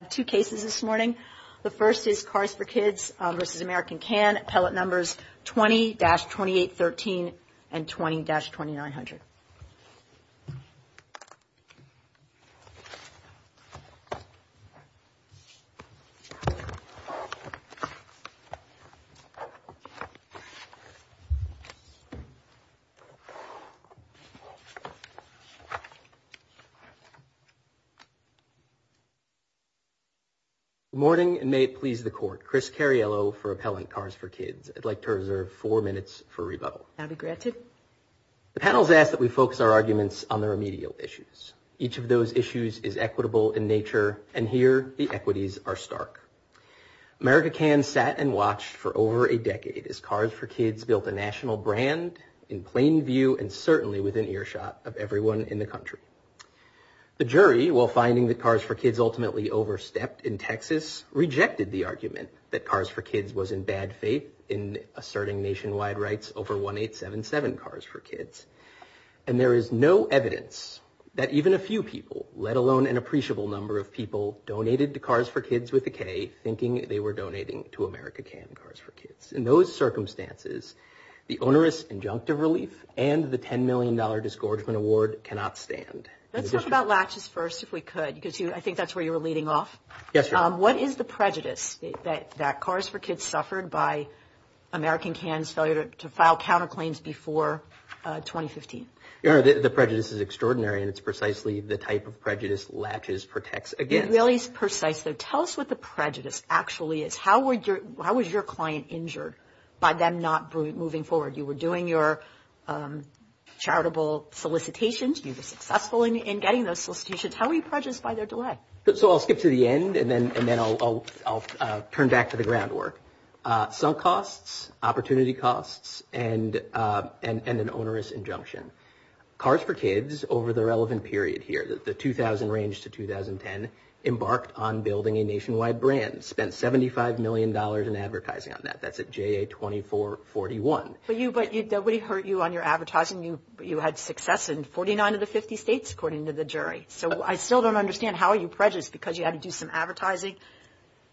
The first is Kars4Kids v. America Can, appellate numbers 20-2813 and 20-2900. Good morning and may it please the court. Chris Cariello for Appellant Kars4Kids. I'd like to reserve four minutes for rebuttal. Abby Gratchit. The panel's asked that we focus our arguments on the remedial issues. Each of those issues is equitable in nature and here the equities are stark. America Can sat and watched for over a decade as Kars4Kids built a national brand in plain view and certainly within earshot of everyone in the country. The jury, while finding that Kars4Kids ultimately overstepped in Texas, rejected the argument that Kars4Kids was in bad faith in asserting nationwide rights over 1877 Kars4Kids. And there is no evidence that even a few people, let alone an appreciable number of people, donated to Kars4Kids with a K thinking they were donating to America Can Kars4Kids. In those circumstances, the onerous injunctive relief and the $10 million discouragement award cannot stand. Let's talk about latches first if we could because I think that's where you were leading off. What is the prejudice that Kars4Kids suffered by America Can's failure to file counterclaims before 2015? Your Honor, the prejudice is extraordinary and it's precisely the type of prejudice latches protects against. Tell us what the prejudice actually is. How was your client injured by them not moving forward? You were doing your charitable solicitations. You were successful in getting those solicitations. How were you prejudiced by their delay? I'll skip to the end and then I'll turn back to the groundwork. Some costs, opportunity costs, and an onerous injunction. Kars4Kids over the relevant period here, the 2000 range to 2010, embarked on building a nationwide brand, spent $75 million in advertising on that. That's at JA-2441. But nobody heard you on your advertising. You had success in 49 of the 50 states according to the jury. So I still don't understand how you're prejudiced because you had to do some advertising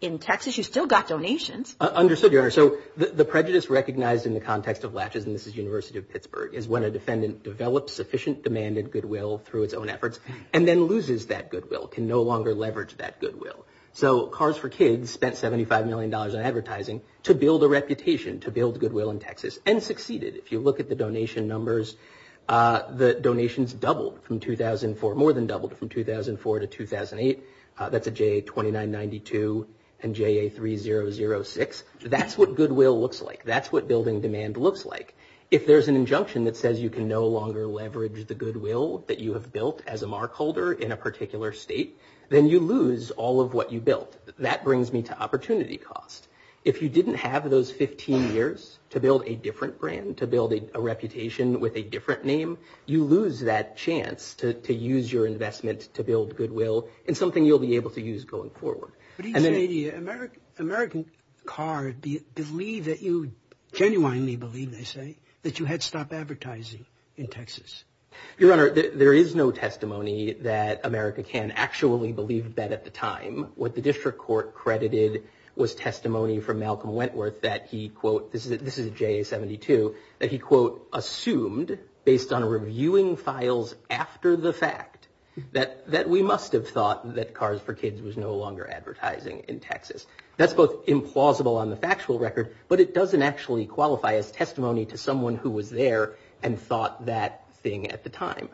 in Texas. You still got donations. Understood, Your Honor. So the prejudice recognized in the context of latches, and this is University of Pittsburgh, is when a defendant develops sufficient demanded goodwill through its own efforts and then loses that goodwill, can no longer leverage that goodwill. So Kars4Kids spent $75 million in advertising to build a reputation, to build goodwill in Texas, and succeeded. If you look at the donation numbers, the donations doubled from 2004, more than doubled from 2004 to 2008. That's at JA-2992 and JA-3006. That's what goodwill looks like. That's what building demand looks like. If there's an injunction that says you can no longer leverage the goodwill that you have built as a mark holder in a particular state, then you lose all of what you built. That brings me to opportunity cost. If you didn't have those 15 years to build a different brand, to build a reputation with a different name, you lose that chance to use your investment to build goodwill and something you'll be able to use going forward. Do you think American cars genuinely believe, they say, that you had to stop advertising in Texas? Your Honor, there is no testimony that America can actually believe that at the time. What the district court credited was testimony from Malcolm Wentworth that he, quote, this is JA-72, that he, quote, assumed based on reviewing files after the fact that we must have thought that Cars for Kids was no longer advertising in Texas. That's both implausible on the factual record, but it doesn't actually qualify as testimony to someone who was there and thought that thing at the time.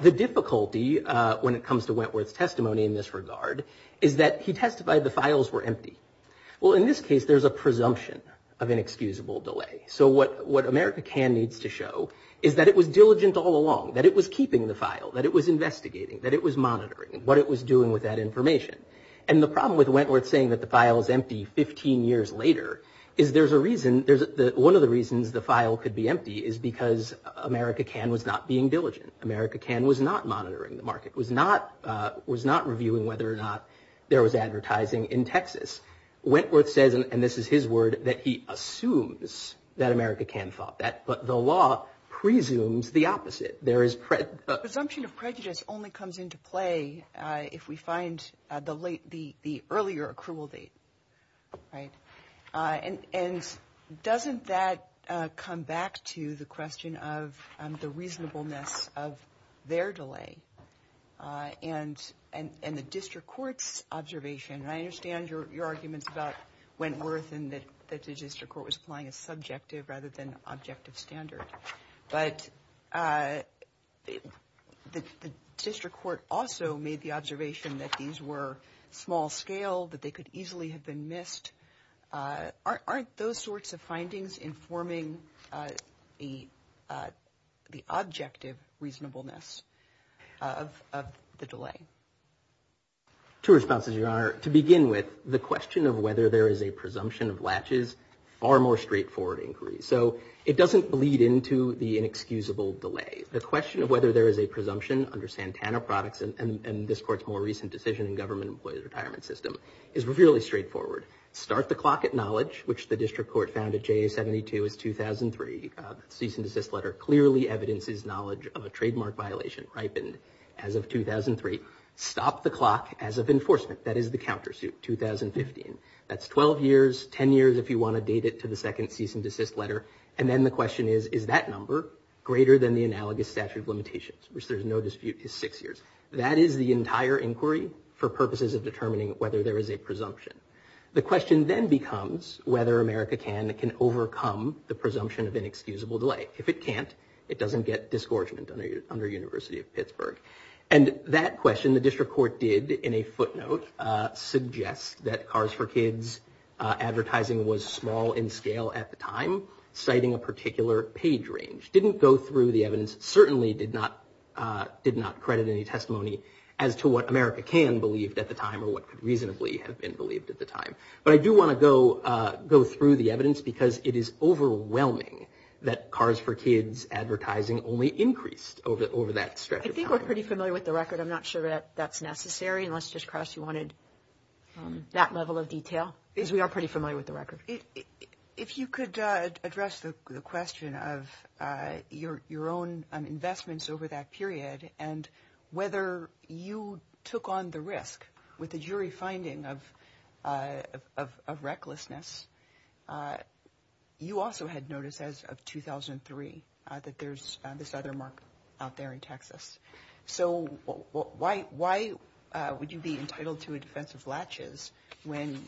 The difficulty when it comes to Wentworth's testimony in this regard is that he testified the files were empty. Well, in this case, there's a presumption of inexcusable delay. So what America can needs to show is that it was diligent all along, that it was keeping the file, that it was investigating, that it was monitoring what it was doing with that information. And the problem with Wentworth saying that the file was empty 15 years later is there's a reason, one of the reasons the file could be empty is because America can was not being diligent. America can was not monitoring the market, was not reviewing whether or not there was advertising in Texas. Wentworth says, and this is his word, that he assumes that America can thought that, but the law presumes the opposite. Presumption of prejudice only comes into play if we find the earlier accrual date. And doesn't that come back to the question of the reasonableness of their delay and the district court's observation, and I understand your argument about Wentworth and that the district court was applying a subjective rather than objective standard, but the district court also made the observation that these were small scale, that they could easily have been missed. Aren't those sorts of findings informing the objective reasonableness of the delay? Two responses, Your Honor. To begin with, the question of whether there is a presumption of latches, far more straightforward inquiry. So it doesn't bleed into the inexcusable delay. The question of whether there is a presumption under Santana Products and this court's more recent decision in Government Employees Retirement System is really straightforward. Start the clock at knowledge, which the district court found at JA 72 in 2003. The cease and desist letter clearly evidences knowledge of a trademark violation, ripened as of 2003. Stop the clock as of enforcement, that is the countersuit, 2015. That's 12 years, 10 years if you want to date it to the second cease and desist letter. And then the question is, is that number greater than the analogous statute of limitations, which there's no dispute is six years. That is the entire inquiry for purposes of determining whether there is a presumption. The question then becomes whether America Can can overcome the presumption of inexcusable delay. If it can't, it doesn't get disgorgement under University of Pittsburgh. And that question, the district court did in a footnote, suggests that Cars for Kids advertising was small in scale at the time, citing a particular page range. Didn't go through the evidence, certainly did not credit any testimony as to what America Can believed at the time or what could reasonably have been believed at the time. But I do want to go through the evidence because it is overwhelming that Cars for Kids advertising only increased over that stretch of time. I think we're pretty familiar with the record. I'm not sure that that's necessary. Unless, Ms. Cross, you wanted that level of detail. Because we are pretty familiar with the record. If you could address the question of your own investments over that period and whether you took on the risk with the jury finding of recklessness, you also had noticed as of 2003 that there's found a feather mark out there in Texas. So why would you be entitled to a defense of latches when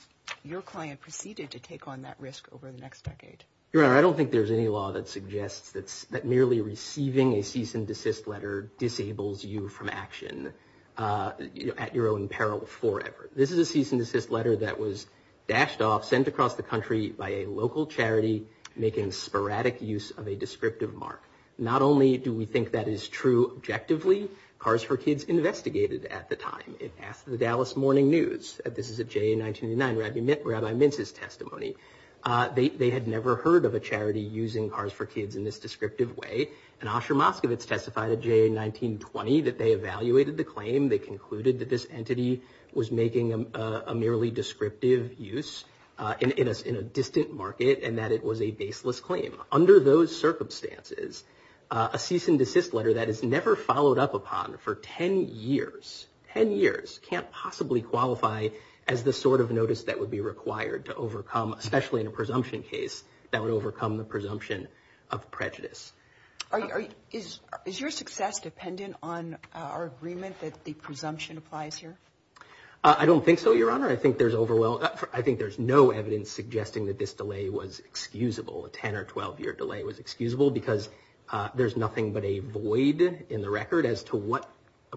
your client proceeded to take on that risk over the next decade? I don't think there's any law that suggests that merely receiving a cease and desist letter disables you from action at your own peril forever. This is a cease and desist letter that was dashed off, sent across the country, by a local charity making sporadic use of a descriptive mark. Not only do we think that is true objectively, Cars for Kids investigated at the time. It passed the Dallas Morning News. This is a JA 1999 Rabbi Mintz's testimony. They had never heard of a charity using Cars for Kids in this descriptive way. And Asher Moskowitz testified at JA 1920 that they evaluated the claim. They concluded that this entity was making a merely descriptive use in a distant market and that it was a baseless claim. Under those circumstances, a cease and desist letter that is never followed up upon for ten years, ten years can't possibly qualify as the sort of notice that would be required to overcome, especially in a presumption case, that would overcome the presumption of prejudice. Is your success dependent on our agreement that the presumption applies here? I don't think so, Your Honor. I think there's no evidence suggesting that this delay was excusable. A ten or twelve year delay was excusable because there's nothing but a void in the record as to what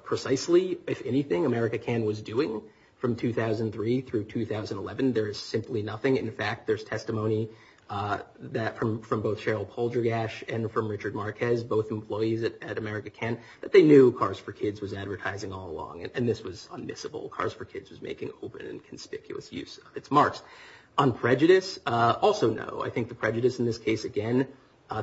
precisely, if anything, America Can was doing from 2003 through 2011. There's simply nothing. In fact, there's testimony from both Cheryl Poldrigash and from Richard Marquez, both employees at America Can, that they knew Cars for Kids was advertising all along. And this was unmissable. Cars for Kids was making open and conspicuous use of its marks. On prejudice, also no. I think the prejudice in this case, again,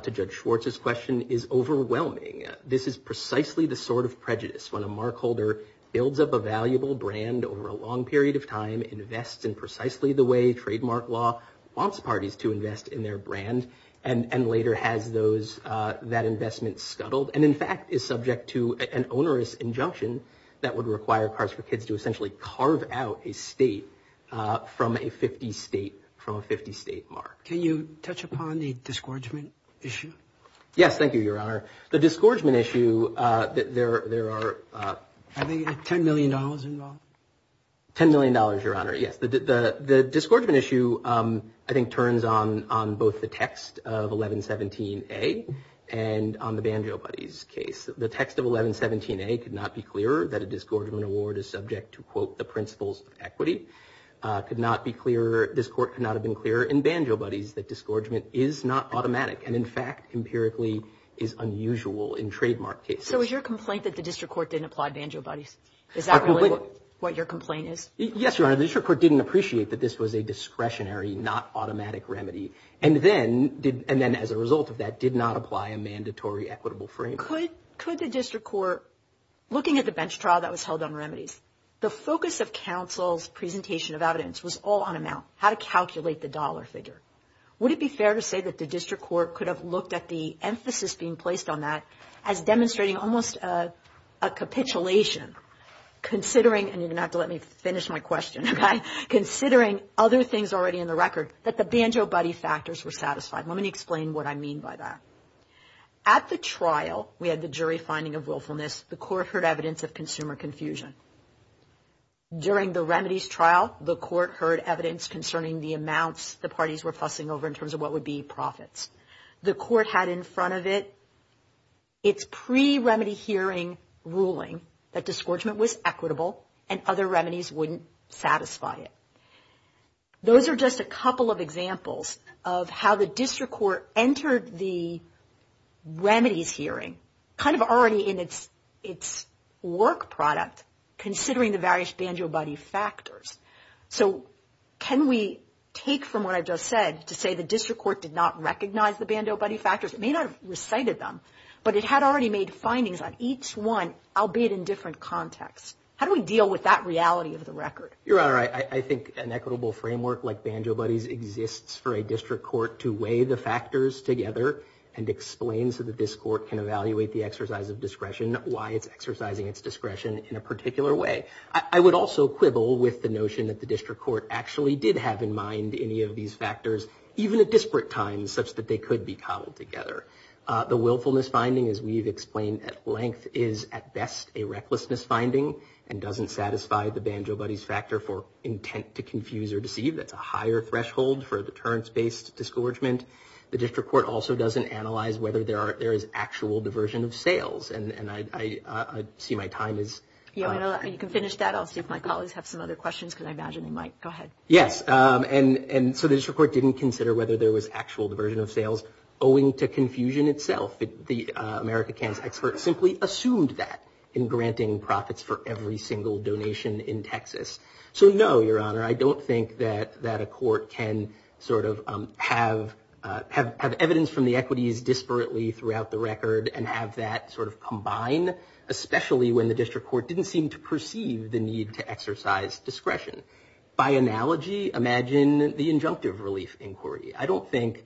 to Judge Schwartz's question, is overwhelming. This is precisely the sort of prejudice when a mark holder builds up a valuable brand over a long period of time, invests in precisely the way trademark law wants parties to invest in their brand, and later has that investment scuttled, and in fact is subject to an onerous injunction that would require Cars for Kids to essentially carve out a state from a 50 state mark. Can you touch upon the disgorgement issue? Yes, thank you, Your Honor. The disgorgement issue, there are $10 million involved. $10 million, Your Honor, yes. The disgorgement issue, I think, turns on both the text of 1117A and on the Banjo Buddies case. The text of 1117A could not be clearer, that a disgorgement award is subject to, quote, the principles of equity, could not have been clearer in Banjo Buddies that disgorgement is not automatic and, in fact, empirically is unusual in trademark cases. So is your complaint that the district court didn't apply Banjo Buddies? Is that really what your complaint is? Yes, Your Honor. The district court didn't appreciate that this was a discretionary, not automatic remedy, and then, as a result of that, did not apply a mandatory equitable framework. Could the district court, looking at the bench trial that was held on remedies, the focus of counsel's presentation of evidence was all on amount, how to calculate the dollar figure. Would it be fair to say that the district court could have looked at the emphasis being placed on that as demonstrating almost a capitulation, considering, and you're going to have to let me finish my question, considering other things already in the record, that the Banjo Buddy factors were satisfied? Let me explain what I mean by that. At the trial, we had the jury finding of willfulness. The court heard evidence of consumer confusion. During the remedies trial, the court heard evidence concerning the amounts the parties were fussing over in terms of what would be profits. The court had in front of it its pre-remedy hearing ruling that disgorgement was equitable and other remedies wouldn't satisfy it. Those are just a couple of examples of how the district court entered the remedies hearing, kind of already in its work product, considering the various Banjo Buddy factors. So can we take from what I just said to say the district court did not recognize the Banjo Buddy factors? It may not have recited them, but it had already made findings on each one, albeit in different contexts. How do we deal with that reality of the record? You're right. I think an equitable framework like Banjo Buddies exists for a district court to weigh the factors together and explain so the district court can evaluate the exercise of discretion, why it's exercising its discretion in a particular way. I would also quibble with the notion that the district court actually did have in mind any of these factors, even at disparate times, such that they could be cobbled together. The willfulness finding, as we've explained at length, is at best a recklessness finding and doesn't satisfy the Banjo Buddies factor for intent to confuse or deceive. That's a higher threshold for deterrence-based disgorgement. The district court also doesn't analyze whether there is actual diversion of sales. And I see my time is up. You can finish that. I'll see if my colleagues have some other questions, because I imagine they might. Go ahead. Yes. And so the district court didn't consider whether there was actual diversion of sales owing to confusion itself. The America Cancer Expert simply assumed that in granting profits for every single donation in Texas. So, no, Your Honor, I don't think that a court can sort of have evidence from the equities disparately throughout the record and have that sort of combine, especially when the district court didn't seem to perceive the need to exercise discretion. By analogy, imagine the injunctive relief inquiry. I don't think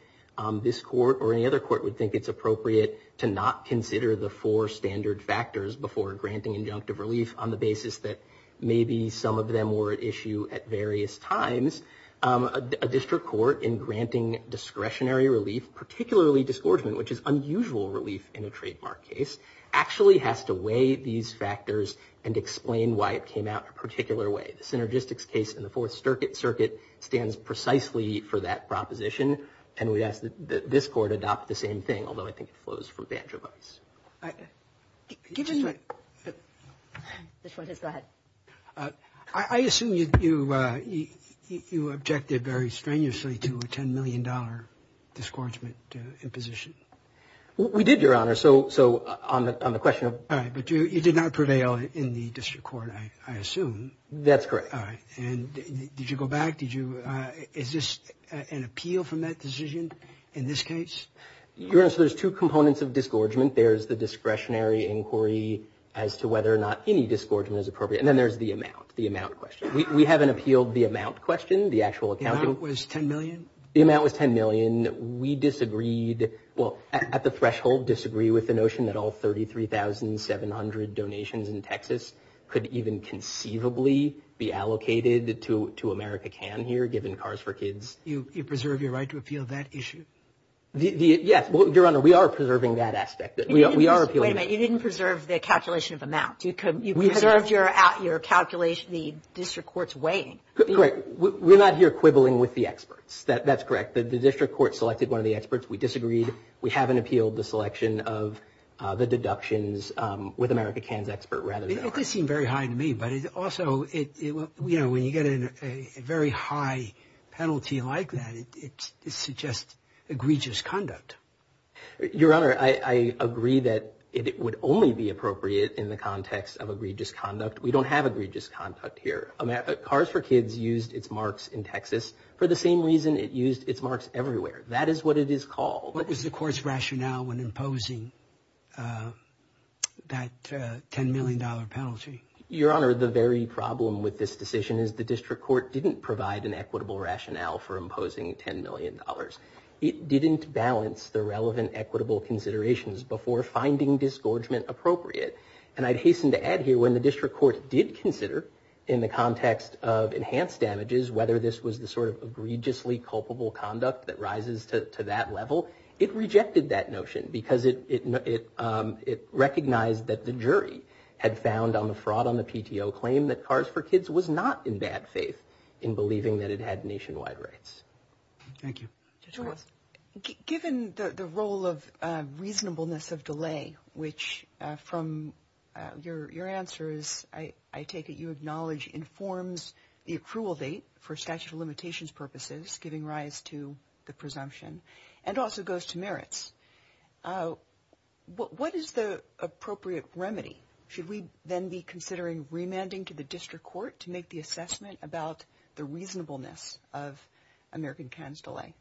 this court or any other court would think it's appropriate to not consider the four standard factors before granting injunctive relief on the basis that maybe some of them were at issue at various times. A district court in granting discretionary relief, particularly disgorgement, which is unusual relief in a trademark case, actually has to weigh these factors and explain why it came out a particular way. The synergistics case in the Fourth Circuit stands precisely for that proposition, and we ask that this court adopt the same thing, although I think it flows from banjo bows. I assume you objected very strenuously to a $10 million disgorgement imposition. We did, Your Honor, so on the question of... But you did not prevail in the district court, I assume. That's correct. And did you go back? Is this an appeal from that decision in this case? Your Honor, so there's two components of disgorgement. There's the discretionary inquiry as to whether or not any disgorgement is appropriate, and then there's the amount, the amount question. We haven't appealed the amount question, the actual accounting. The amount was $10 million? The amount was $10 million. We disagreed, well, at the threshold disagreed with the notion that all 33,700 donations in Texas could even conceivably be allocated to America Can here, given cars for kids. Do you preserve your right to appeal that issue? Yes, Your Honor, we are preserving that aspect. Wait a minute, you didn't preserve the calculation of amount. You preserved your calculation, the district court's weighing. Correct. We're not here quibbling with the experts. That's correct. The district court selected one of the experts. We disagreed. We haven't appealed the selection of the deductions with America Can's expert. It does seem very high to me, but it also, you know, when you get a very high penalty like that, it suggests egregious conduct. Your Honor, I agree that it would only be appropriate in the context of egregious conduct. We don't have egregious conduct here. Cars for kids used its marks in Texas for the same reason it used its marks everywhere. That is what it is called. What was the court's rationale when imposing that $10 million penalty? Your Honor, the very problem with this decision is the district court didn't provide an equitable rationale for imposing $10 million. It didn't balance the relevant equitable considerations before finding disgorgement appropriate. And I'd hasten to add here, when the district court did consider, in the context of enhanced damages, whether this was the sort of egregiously culpable conduct that rises to that level, it rejected that notion because it recognized that the jury had found on the fraud on the PTO claim that Cars for Kids was not in bad faith in believing that it had nationwide rights. Thank you. Given the role of reasonableness of delay, which from your answers, I take it you acknowledge, informs the approval date for statute of limitations purposes, giving rise to the presumption, and also goes to merits. What is the appropriate remedy? Should we then be considering remanding to the district court to make the assessment about the reasonableness of American Can's delay?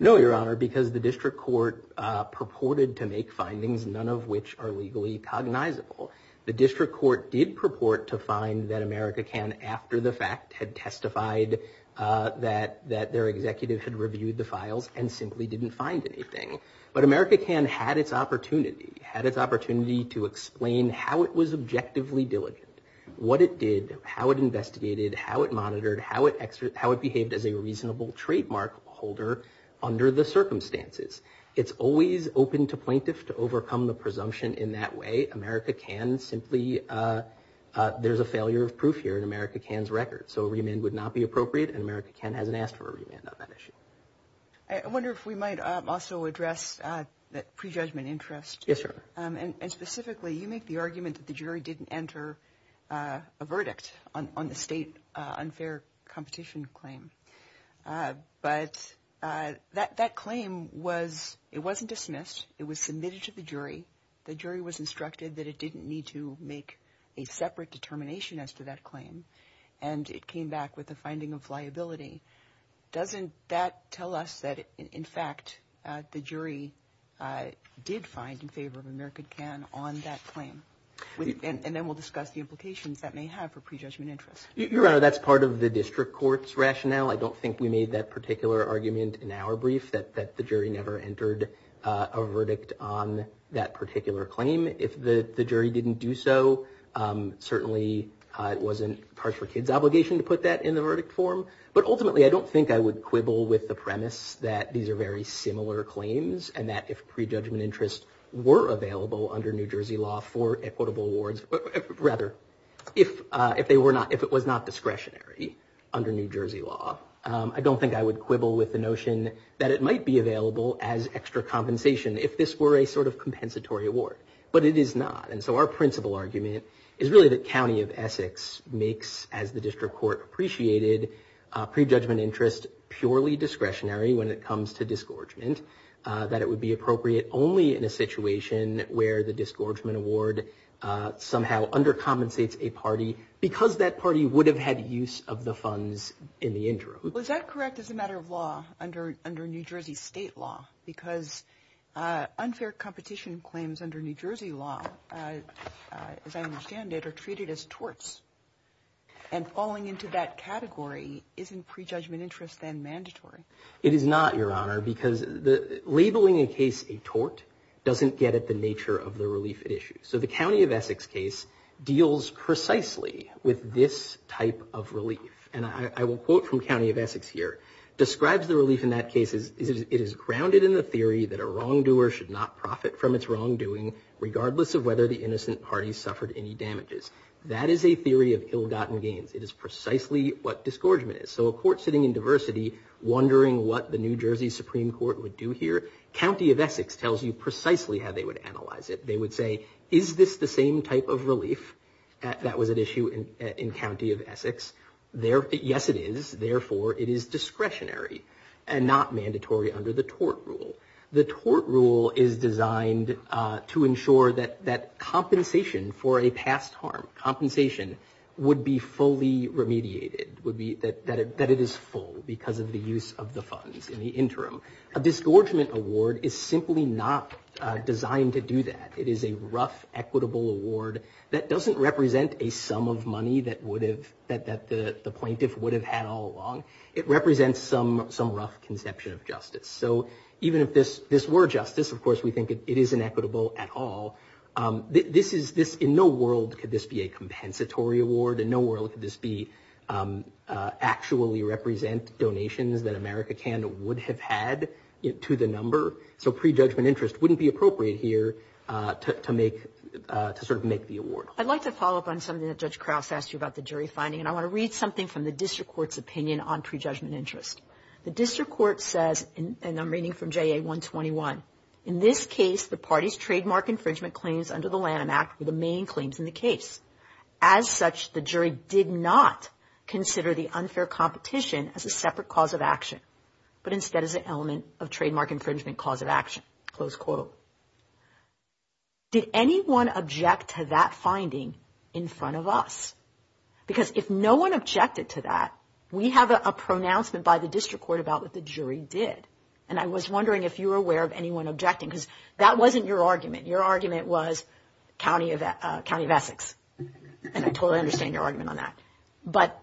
No, Your Honor, because the district court purported to make findings, none of which are legally cognizable. The district court did purport to find that American Can, after the fact, had testified that their executive had reviewed the files and simply didn't find anything. But American Can had its opportunity, had its opportunity to explain how it was objectively diligent, what it did, how it investigated, how it monitored, how it behaved as a reasonable trademark holder under the circumstances. It's always open to plaintiffs to overcome the presumption in that way. American Can simply, there's a failure of proof here in American Can's record. So a remand would not be appropriate, and American Can hasn't asked for a remand on that issue. I wonder if we might also address the prejudgment interest. Yes, Your Honor. And specifically, you make the argument that the jury didn't enter a verdict on the state unfair competition claim. But that claim was, it wasn't dismissed. It was submitted to the jury. The jury was instructed that it didn't need to make a separate determination as to that claim, and it came back with a finding of liability. Doesn't that tell us that, in fact, the jury did find in favor of American Can on that claim? And then we'll discuss the implications that may have for prejudgment interest. Your Honor, that's part of the district court's rationale. I don't think we made that particular argument in our brief, that the jury never entered a verdict on that particular claim. If the jury didn't do so, certainly it wasn't a partial kid's obligation to put that in the verdict form. But ultimately, I don't think I would quibble with the premise that these are very similar claims, and that if prejudgment interest were available under New Jersey law for equitable awards, but rather, if it was not discretionary under New Jersey law, I don't think I would quibble with the notion that it might be available as extra compensation, if this were a sort of compensatory award. But it is not. And so our principal argument is really that County of Essex makes, as the district court appreciated, prejudgment interest purely discretionary when it comes to disgorgement, that it would be appropriate only in a situation where the disgorgement award somehow undercompensates a party, because that party would have had use of the funds in the interim. Was that correct as a matter of law under New Jersey state law? Because unfair competition claims under New Jersey law, as I understand it, are treated as torts. And falling into that category isn't prejudgment interest then mandatory. It is not, Your Honor, because labeling a case a tort doesn't get at the nature of the relief issue. So the County of Essex case deals precisely with this type of relief. And I will quote from County of Essex here. Describes the relief in that case is, it is grounded in the theory that a wrongdoer should not profit from its wrongdoing, regardless of whether the innocent party suffered any damages. That is a theory of ill-gotten gains. It is precisely what disgorgement is. So a court sitting in diversity wondering what the New Jersey Supreme Court would do here, County of Essex tells you precisely how they would analyze it. They would say, is this the same type of relief that was at issue in County of Essex? Yes, it is. Therefore, it is discretionary and not mandatory under the tort rule. The tort rule is designed to ensure that compensation for a past harm, compensation would be fully remediated, that it is full because of the use of the funds in the interim. A disgorgement award is simply not designed to do that. It is a rough equitable award that doesn't represent a sum of money that the plaintiff would have had all along. It represents some rough conception of justice. So even if this were justice, of course, we think it isn't equitable at all. In no world could this be a compensatory award. In no world could this actually represent donations that America would have had to the number. So prejudgment interest wouldn't be appropriate here to sort of make the award. I'd like to follow up on something that Judge Krause asked you about the jury finding, and I want to read something from the district court's opinion on prejudgment interest. The district court says, and I'm reading from JA 121, in this case the party's trademark infringement claims under the Lanham Act were the main claims in the case. As such, the jury did not consider the unfair competition as a separate cause of action, but instead as an element of trademark infringement cause of action, close quote. Did anyone object to that finding in front of us? Because if no one objected to that, we have a pronouncement by the district court about what the jury did, and I was wondering if you were aware of anyone objecting, because that wasn't your argument. Your argument was County of Essex, and I totally understand your argument on that. But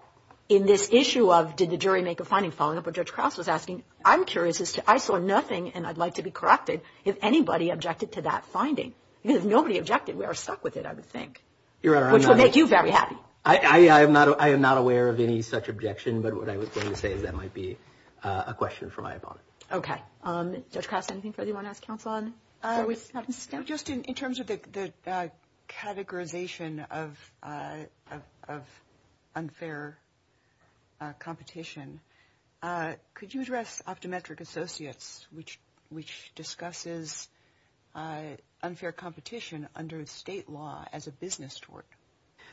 in this issue of did the jury make a finding, following up what Judge Krause was asking, I'm curious, I saw nothing, and I'd like to be corrected, if anybody objected to that finding. Because if nobody objected, we are stuck with it, I would think, which would make you very happy. I am not aware of any such objection, but what I was going to say is that might be a question for my opponent. Okay. Judge Krause, anything further you want to ask counsel on? Just in terms of the categorization of unfair competition, could you address Optometric Associates, which discusses unfair competition under state law as a business tort?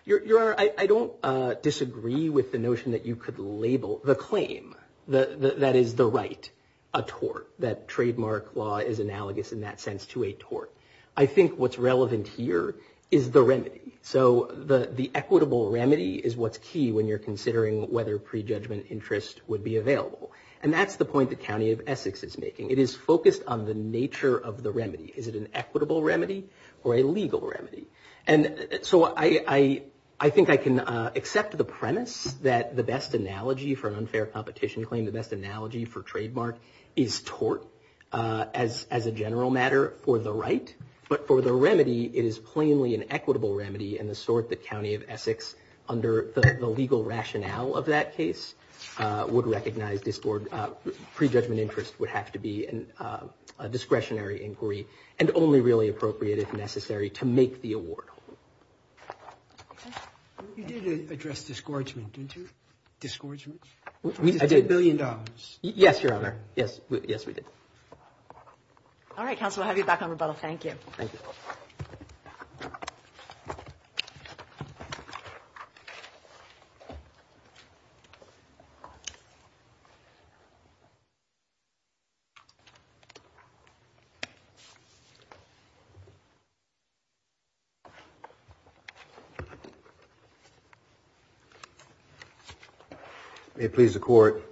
Your Honor, I don't disagree with the notion that you could label the claim, that is the right, a tort. That trademark law is analogous in that sense to a tort. I think what's relevant here is the remedy. So the equitable remedy is what's key when you're considering whether prejudgment interest would be available. And that's the point the County of Essex is making. It is focused on the nature of the remedy. Is it an equitable remedy or a legal remedy? And so I think I can accept the premise that the best analogy for an unfair competition claim, the best analogy for trademark is tort as a general matter for the right. But for the remedy, it is plainly an equitable remedy in the sort that County of Essex, under the legal rationale of that case, would recognize this board. Prejudgment interest would have to be a discretionary inquiry and only really appropriate if necessary to make the award. You did address disgorgement, didn't you? Disgorgement? I did. A billion dollars. Yes, Your Honor. Yes. Yes, we did. All right, counsel. I'll have you back on rebuttal. Thank you. Thank you. May it please the Court,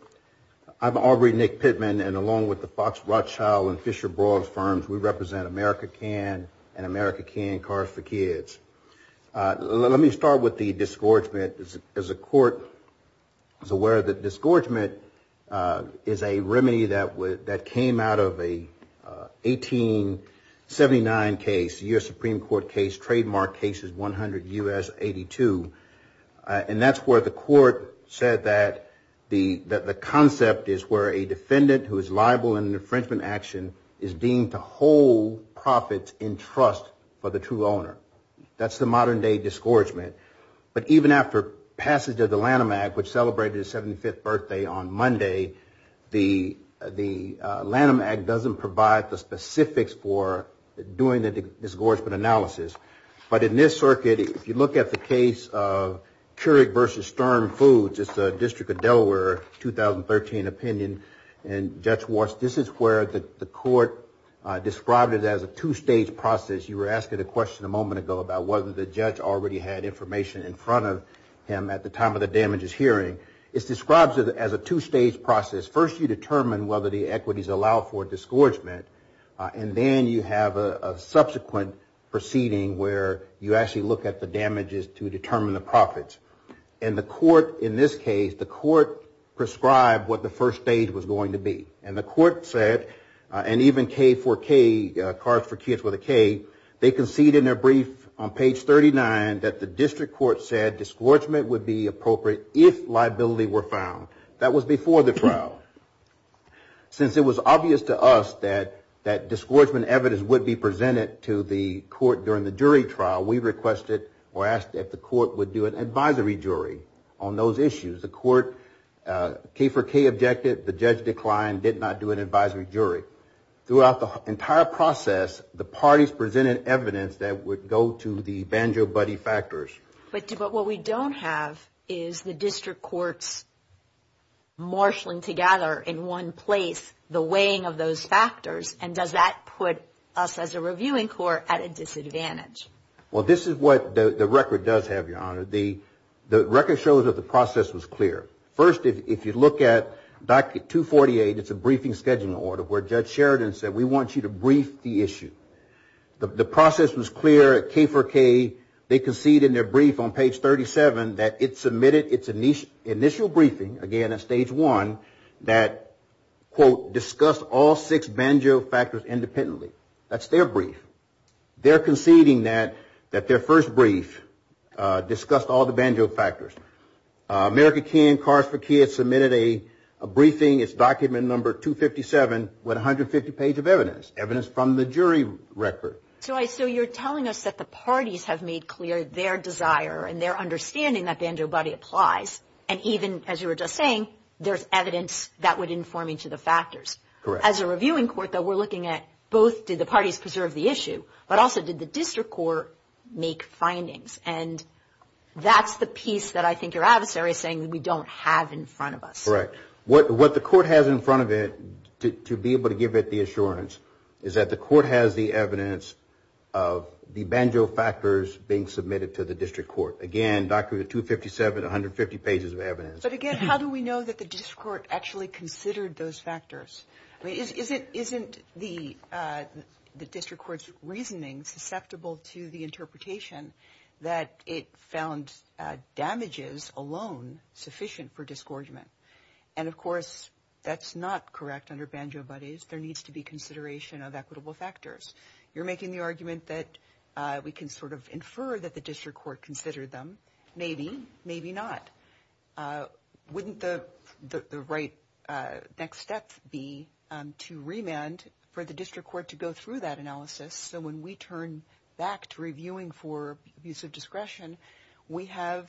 I'm Aubrey Nick Pittman, and along with the Fox Rothschild and Fisher Broad firms, we represent America Can and America Can Cars for Kids. Let me start with the disgorgement. As the Court is aware, the disgorgement is a remedy that came out of an 1879 case, 100 U.S. 82, and that's where the Court said that the concept is where a defendant who is liable in an infringement action is deemed to hold profits in trust for the true owner. That's the modern-day disgorgement. But even after passage of the Lanham Act, which celebrated its 75th birthday on Monday, the Lanham Act doesn't provide the specifics for doing the disgorgement analysis. But in this circuit, if you look at the case of Keurig v. Sturm Foods, it's a District of Delaware 2013 opinion, and Judge Walsh, this is where the Court described it as a two-stage process. You were asking a question a moment ago about whether the judge already had information in front of him at the time of the damages hearing. It describes it as a two-stage process. First, you determine whether the equities allow for disgorgement, and then you have a subsequent proceeding where you actually look at the damages to determine the profits. In this case, the Court prescribed what the first stage was going to be, and the Court said, and even K4K, Cards for Kids with a K, they concede in their brief on page 39 that the District Court said disgorgement would be appropriate if liability were found. That was before the trial. Since it was obvious to us that disgorgement evidence would be presented to the Court during the jury trial, we requested or asked that the Court would do an advisory jury on those issues. The Court K4K objected. The judge declined, did not do an advisory jury. Throughout the entire process, the parties presented evidence that would go to the banjo-buddy factors. But what we don't have is the District Courts marshaling together in one place the weighing of those factors, and does that put us as a reviewing court at a disadvantage? Well, this is what the record does have, Your Honor. The record shows that the process was clear. First, if you look back at 248, it's a briefing scheduling order where Judge Sheridan said, we want you to brief the issue. The process was clear at K4K. They conceded in their brief on page 37 that it submitted its initial briefing, again, at stage 1, that, quote, discussed all six banjo factors independently. That's their brief. They're conceding that their first brief discussed all the banjo factors. America Teen, Kars for Kids submitted a briefing. It's document number 257 with 150 pages of evidence, evidence from the jury record. So you're telling us that the parties have made clear their desire and their understanding that the banjo-buddy applies, and even, as you were just saying, there's evidence that would inform each of the factors. Correct. As a reviewing court, though, we're looking at both did the parties preserve the issue, but also did the District Court make findings? That's the piece that I think your adversary is saying we don't have in front of us. Correct. What the court has in front of it, to be able to give it the assurance, is that the court has the evidence of the banjo factors being submitted to the District Court. Again, document 257, 150 pages of evidence. But, again, how do we know that the District Court actually considered those factors? I mean, isn't the District Court's reasoning susceptible to the interpretation that it found damages alone sufficient for disgorgement? And, of course, that's not correct under banjo-buddies. There needs to be consideration of equitable factors. You're making the argument that we can sort of infer that the District Court considered them. Maybe, maybe not. Wouldn't the right next step be to remand for the District Court to go through that analysis so when we turn back to reviewing for abuse of discretion, we have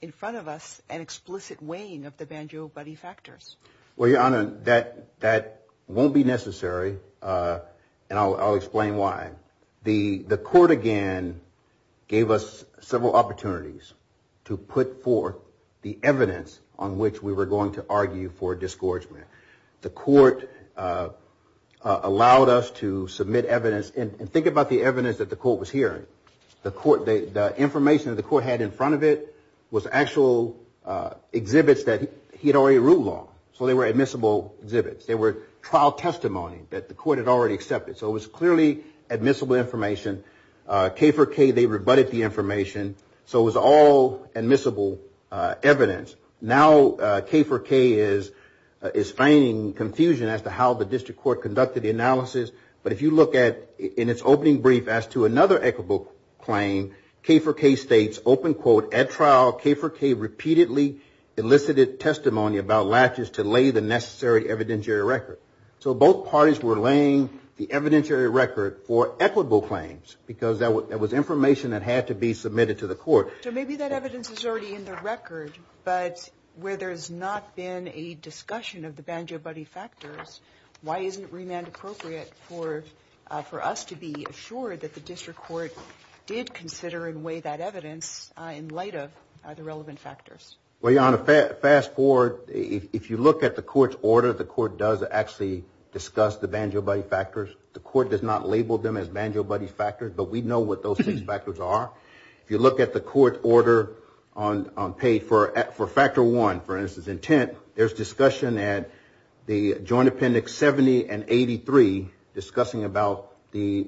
in front of us an explicit weighing of the banjo-buddy factors? Well, Your Honor, that won't be necessary, and I'll explain why. The court, again, gave us several opportunities to put forth the evidence on which we were going to argue for disgorgement. The court allowed us to submit evidence. And think about the evidence that the court was hearing. The information that the court had in front of it was actual exhibits that he had already ruled on. So they were admissible exhibits. They were trial testimony that the court had already accepted. So it was clearly admissible information. K for K, they rebutted the information. So it was all admissible evidence. Now K for K is framing confusion as to how the District Court conducted the analysis. But if you look at, in its opening brief, as to another equitable claim, K for K states, open quote, at trial K for K repeatedly elicited testimony about latches to lay the necessary evidentiary record. So both parties were laying the evidentiary record for equitable claims because that was information that had to be submitted to the court. So maybe that evidence is already in the record, but where there has not been a discussion of the banjo-buddy factors, why isn't remand appropriate for us to be assured that the District Court did consider and weigh that evidence in light of the relevant factors? Well, Your Honor, fast forward. If you look at the court's order, the court does actually discuss the banjo-buddy factors. The court does not label them as banjo-buddy factors, but we know what those factors are. If you look at the court order on pay for factor one, for instance, intent, there's discussion at the joint appendix 70 and 83 discussing about the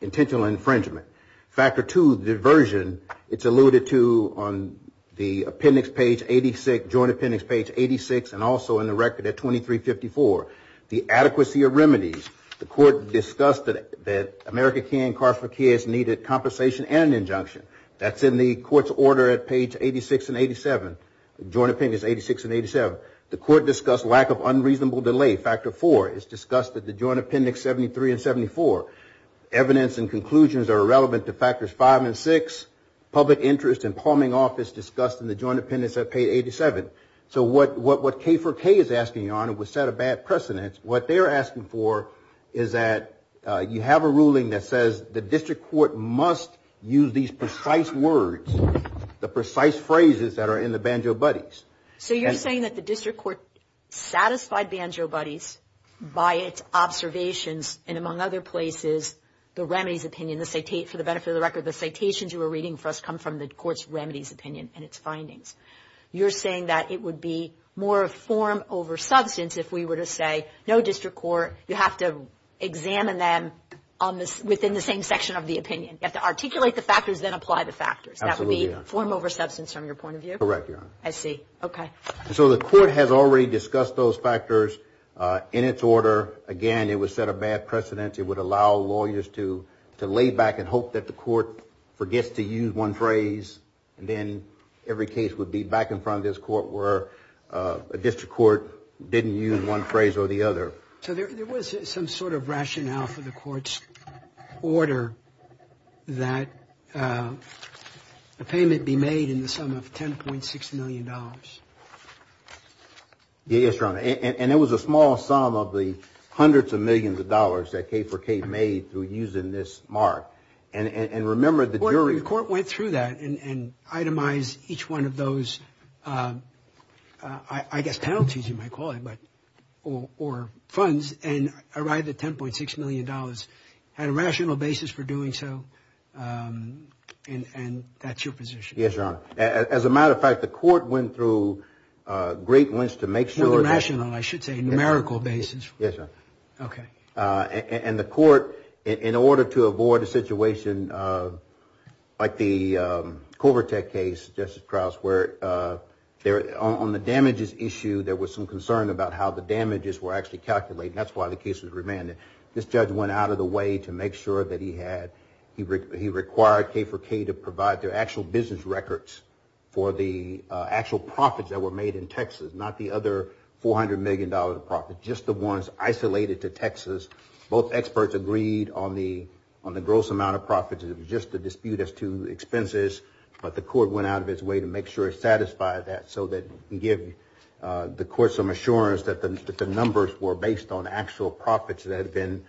intentional infringement. Factor two, diversion, it's alluded to on the appendix page 86, joint appendix page 86, and also in the record at 2354. The adequacy of remedies. The court discussed that America K and K for K needed compensation and an injunction. That's in the court's order at page 86 and 87. Joint appendix 86 and 87. The court discussed lack of unreasonable delay, factor four. It's discussed at the joint appendix 73 and 74. Evidence and conclusions are irrelevant to factors five and six. Public interest and palming off is discussed in the joint appendix at page 87. So what K for K is asking, Your Honor, was set a bad precedent. What they're asking for is that you have a ruling that says the District Court must use these precise words, the precise phrases that are in the banjo buddies. So you're saying that the District Court satisfied banjo buddies by its observations and among other places the remedies opinion, for the benefit of the record, the citations you were reading for us come from the court's remedies opinion and its findings. You're saying that it would be more a form over substance if we were to say, no, District Court, you have to examine them within the same section of the opinion. You have to articulate the factors, then apply the factors. That would be form over substance from your point of view? Correct, Your Honor. I see. Okay. So the court has already discussed those factors in its order. Again, it was set a bad precedent. It would allow lawyers to lay back and hope that the court forgets to use one phrase. Then every case would be back in front of this court where a District Court didn't use one phrase or the other. So there was some sort of rationale for the court's order that a payment be made in the sum of $10.6 million. Yes, Your Honor. And it was a small sum of the hundreds of millions of dollars that K4K made through using this mark. And remember the jury... I guess penalties you might call it, or funds, and arrived at $10.6 million. Had a rational basis for doing so, and that's your position. Yes, Your Honor. As a matter of fact, the court went through great lengths to make sure... Not rational, I should say numerical basis. Yes, Your Honor. Okay. And the court, in order to avoid a situation like the Culver Tech case, Justice Krauss, where on the damages issue there was some concern about how the damages were actually calculated. That's why the case was remanded. This judge went out of the way to make sure that he had... He required K4K to provide their actual business records for the actual profits that were made in Texas, not the other $400 million of profits, just the ones isolated to Texas. Both experts agreed on the gross amount of profits. It was just a dispute as to expenses, but the court went out of its way to make sure it satisfied that so that it gave the court some assurance that the numbers were based on actual profits that had been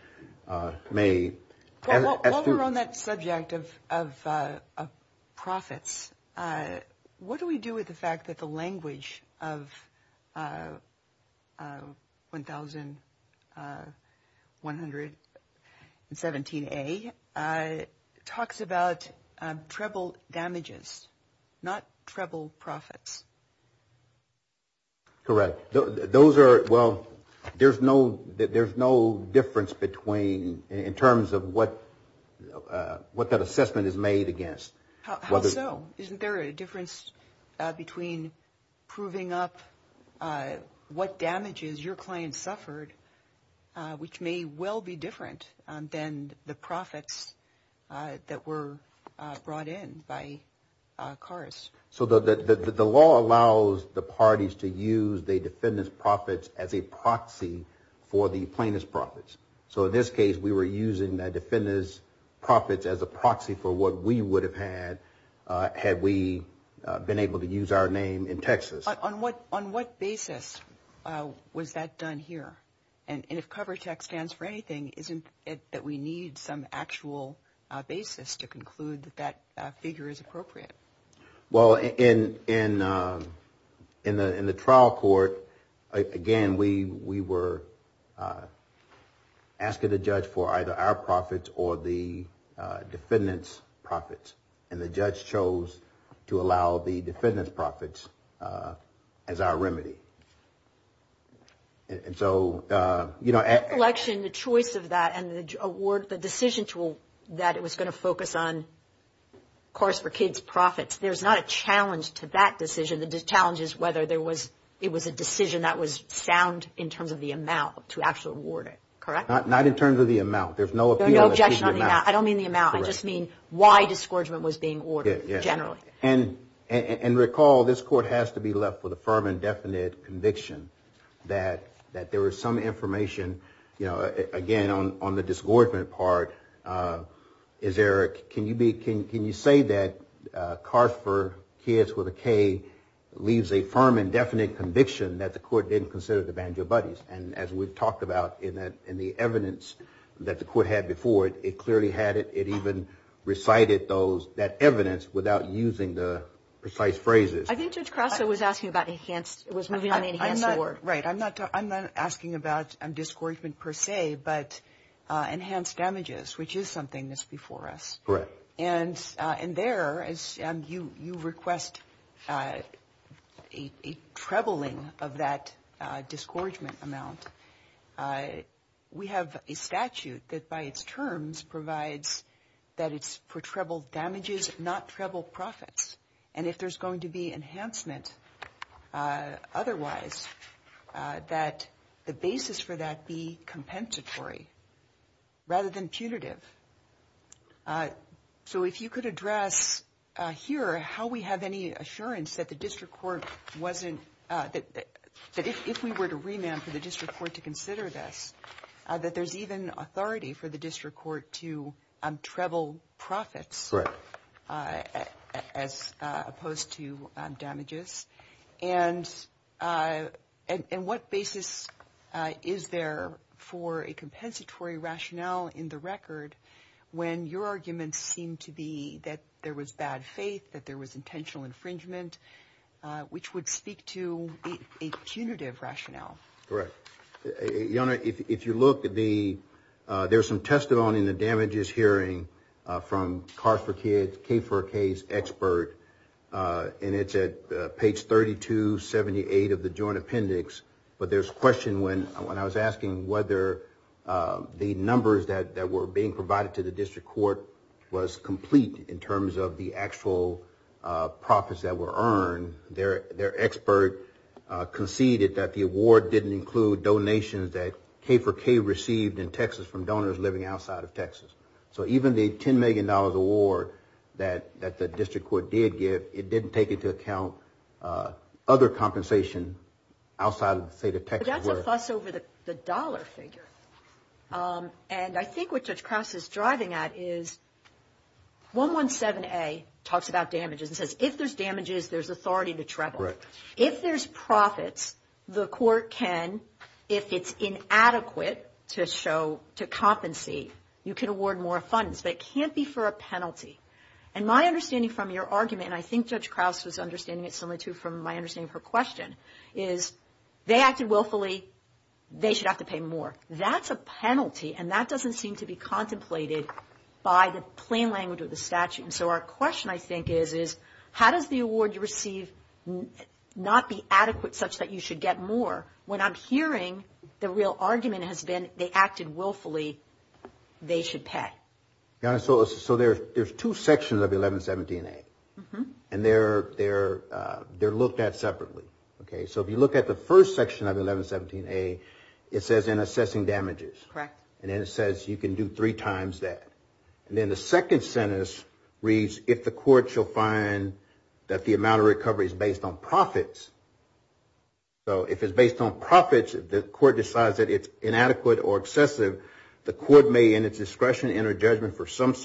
made. While we're on that subject of profits, what do we do with the fact that the language of 1117A talks about treble damages, not treble profits? Correct. Those are... Well, there's no difference between... In terms of what that assessment is made against. How so? Isn't there a difference between proving up what damages your client suffered, which may well be different than the profits that were brought in by cars? The law allows the parties to use the defendant's profits as a proxy for the plaintiff's profits. In this case, we were using the defendant's profits as a proxy for what we would have had had we been able to use our name in Texas. On what basis was that done here? And if COVERTEX stands for anything, isn't it that we need some actual basis to conclude that that figure is appropriate? Well, in the trial court, again, we were asking the judge for either our profits or the defendant's profits, and the judge chose to allow the defendant's profits as our remedy. In this election, the choice of that and the decision that it was going to focus on cars for kids' profits, there's not a challenge to that decision. The challenge is whether it was a decision that was sound in terms of the amount to actually award it. Correct? Not in terms of the amount. There's no objection on the amount. I don't mean the amount. I just mean why discouragement was being ordered generally. And recall, this court has to be left with a firm and definite conviction that there was some information, again, on the disagreement part. Can you say that cars for kids with a K leaves a firm and definite conviction that the court didn't consider the banjo buttons? And as we've talked about in the evidence that the court had before, it clearly had it. It even recited that evidence without using the precise phrases. I think Judge Crosso was asking about enhanced. I'm not asking about discouragement per se, but enhanced damages, which is something that's before us. Correct. And there, you request a trebling of that discouragement amount. We have a statute that, by its terms, provides that it's for treble damages, not treble profits. And if there's going to be enhancement otherwise, that the basis for that be compensatory rather than punitive. So if you could address here how we have any assurance that the district court wasn't – that if we were to remand for the district court to consider this, that there's even authority for the district court to treble profits as opposed to damages. And what basis is there for a compensatory rationale in the record when your arguments seem to be that there was bad faith, that there was intentional infringement, which would speak to a punitive rationale? Correct. Your Honor, if you look at the – there's some testimony in the damages hearing from Kars4Kids, K4K's expert, and it's at page 3278 of the joint appendix. But there's a question when I was asking whether the numbers that were being provided to the district court was complete in terms of the actual profits that were earned, their expert conceded that the award didn't include donations that K4K received in Texas from donors living outside of Texas. So even the $10 million award that the district court did get, it didn't take into account other compensation outside of the state of Texas. But that's a plus over the dollar figure. And I think what Judge Krause is driving at is 117A talks about damages and says if there's damages, there's authority to treble. Correct. If there's profits, the court can, if it's inadequate to compensate, you can award more funds, but it can't be for a penalty. And my understanding from your argument, and I think Judge Krause was understanding it similar to my understanding of her question, is they acted willfully, they should have to pay more. That's a penalty, and that doesn't seem to be contemplated by the plain language of the statute. And so our question, I think, is how does the award you receive not be adequate such that you should get more when I'm hearing the real argument has been they acted willfully, they should pay. So there's two sections of 1117A, and they're looked at separately. So if you look at the first section of 1117A, it says in assessing damages. Correct. And it says you can do three times that. And then the second sentence reads if the court shall find that the amount of recovery is based on profits, so if it's based on profits, if the court decides that it's inadequate or excessive, the court may in its discretion enter judgment for such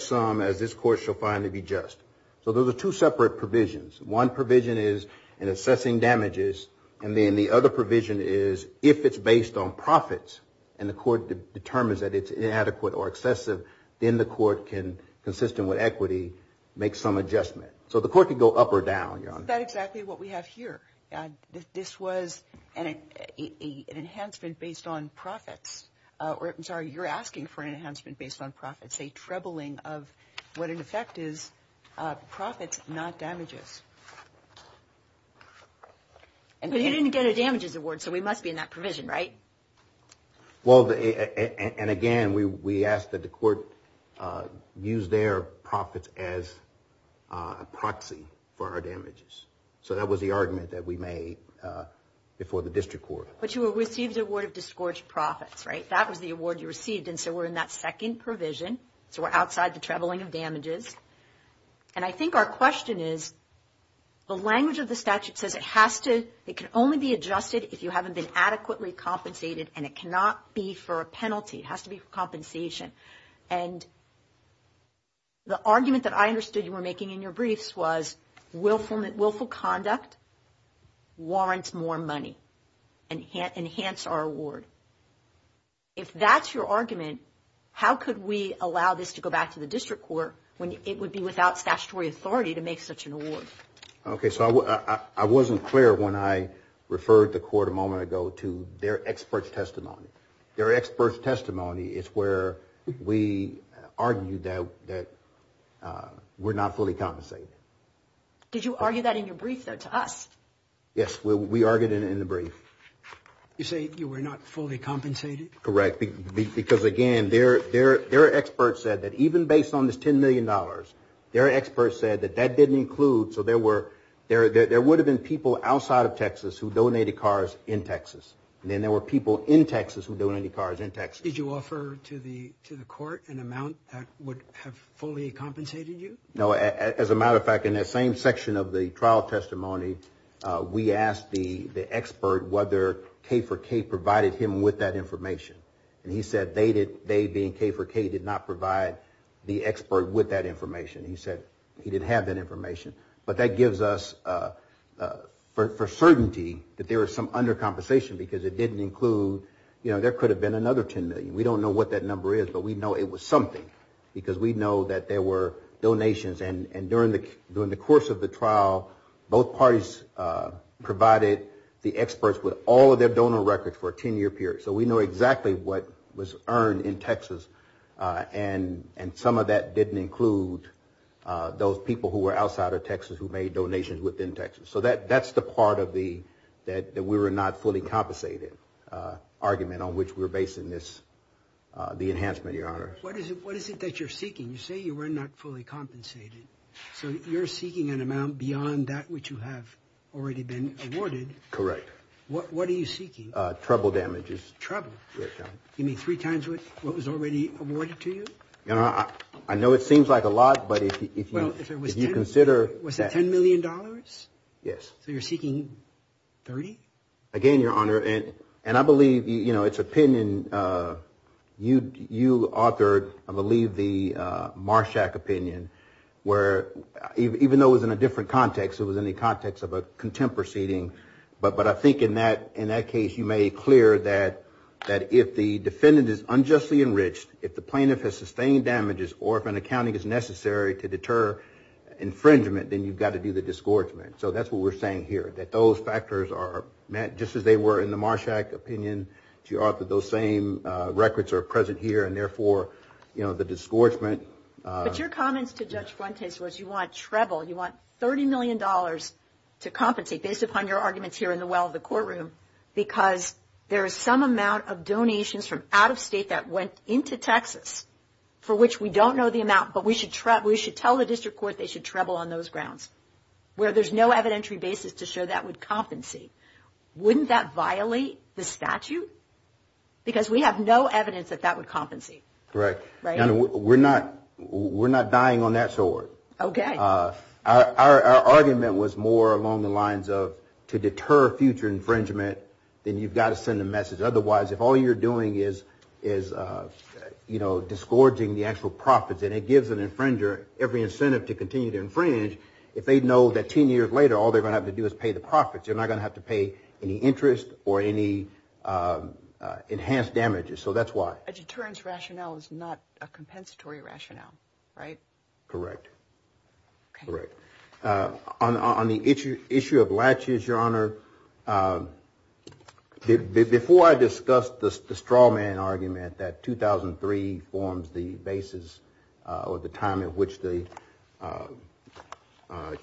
sum as this court shall find to be just. So those are two separate provisions. One provision is in assessing damages, and then the other provision is if it's based on profits and the court determines that it's inadequate or excessive, then the court can, consistent with equity, make some adjustment. So the court can go up or down, Your Honor. But isn't that exactly what we have here? This was an enhancement based on profits. I'm sorry, you're asking for an enhancement based on profits, a trebling of what in effect is profits, not damages. But he didn't get a damages award, so we must be in that provision, right? Well, and again, we ask that the court use their profits as a proxy for our damages. So that was the argument that we made before the district court. But you will receive the award of disgorged profits, right? That was the award you received, and so we're in that second provision. So we're outside the trebling of damages. And I think our question is the language of the statute says it has to, it can only be adjusted if you haven't been adequately compensated and it cannot be for a penalty. It has to be for compensation. And the argument that I understood you were making in your briefs was willful conduct warrants more money, enhance our award. If that's your argument, how could we allow this to go back to the district court when it would be without statutory authority to make such an award? Okay, so I wasn't clear when I referred the court a moment ago to their expert testimony. Their expert testimony is where we argued that we're not fully compensated. Did you argue that in your brief, though, to us? Yes, we argued it in the brief. You say you were not fully compensated? Correct, because again, their expert said that even based on the $10 million, their expert said that that didn't include, so there would have been people outside of Texas who donated cars in Texas. And then there were people in Texas who donated cars in Texas. Did you offer to the court an amount that would have fully compensated you? No, as a matter of fact, in that same section of the trial testimony, we asked the expert whether K4K provided him with that information. And he said they, being K4K, did not provide the expert with that information. He said he didn't have that information. But that gives us for certainty that there was some under-compensation because it didn't include, you know, there could have been another $10 million. We don't know what that number is, but we know it was something because we know that there were donations. And during the course of the trial, both parties provided the experts with all of their donor records for a 10-year period. So we know exactly what was earned in Texas. And some of that didn't include those people who were outside of Texas who made donations within Texas. So that's the part that we were not fully compensated argument on which we're basing this, the enhancement, Your Honor. What is it that you're seeking? You say you were not fully compensated. So you're seeking an amount beyond that which you have already been awarded. Correct. What are you seeking? Treble damages. Treble. You mean three times what was already awarded to you? Your Honor, I know it seems like a lot, but if you consider that. Was it $10 million? Yes. So you're seeking $30? Again, Your Honor, and I believe, you know, it's opinion. You authored, I believe, the Marshak opinion where even though it was in a different context, it was in the context of a contempt proceeding. But I think in that case you made clear that if the defendant is unjustly enriched, if the plaintiff has sustained damages or if an accounting is necessary to deter infringement, then you've got to do the disgorgement. So that's what we're saying here, that those factors are, just as they were in the Marshak opinion, you authored those same records are present here, and therefore, you know, the disgorgement. But your comments to Judge Fuentes was you want treble. You want $30 million to compensate based upon your arguments here in the well of the courtroom because there is some amount of donations from out of state that went into Texas for which we don't know the amount, but we should tell the district court they should treble on those grounds where there's no evidentiary basis to show that would compensate. Wouldn't that violate the statute? Because we have no evidence that that would compensate. Correct. Your Honor, we're not dying on that sword. Okay. Our argument was more along the lines of to deter future infringement, then you've got to send a message. Otherwise, if all you're doing is, you know, disgorging the actual profits and it gives an infringer every incentive to continue to infringe, if they know that 10 years later all they're going to have to do is pay the profits, they're not going to have to pay any interest or any enhanced damages. So that's why. A deterrence rationale is not a compensatory rationale, right? Correct. Correct. On the issue of latches, Your Honor, before I discussed the straw man argument that 2003 forms the basis or the time in which the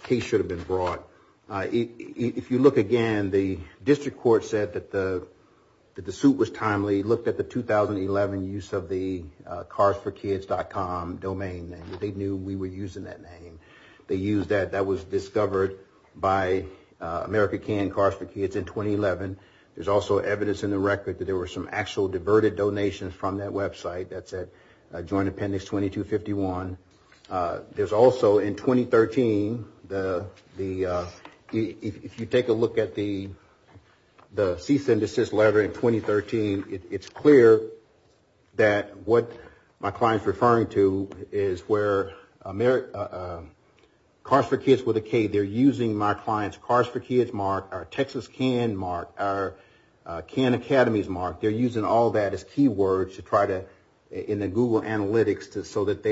case should have been brought, if you look again, the district court said that the suit was timely, they looked at the 2011 use of the carsforkids.com domain and they knew we were using that name. They used that. That was discovered by America Can Cars for Kids in 2011. There's also evidence in the record that there were some actual diverted donations from that website that said Joint Appendix 2251. There's also in 2013, if you take a look at the cease and desist letter in 2013, it's clear that what my client's referring to is where Cars for Kids with a K, they're using my client's Cars for Kids mark, our Texas Can mark, our Can Academies mark, they're using all that as keywords in the Google Analytics so that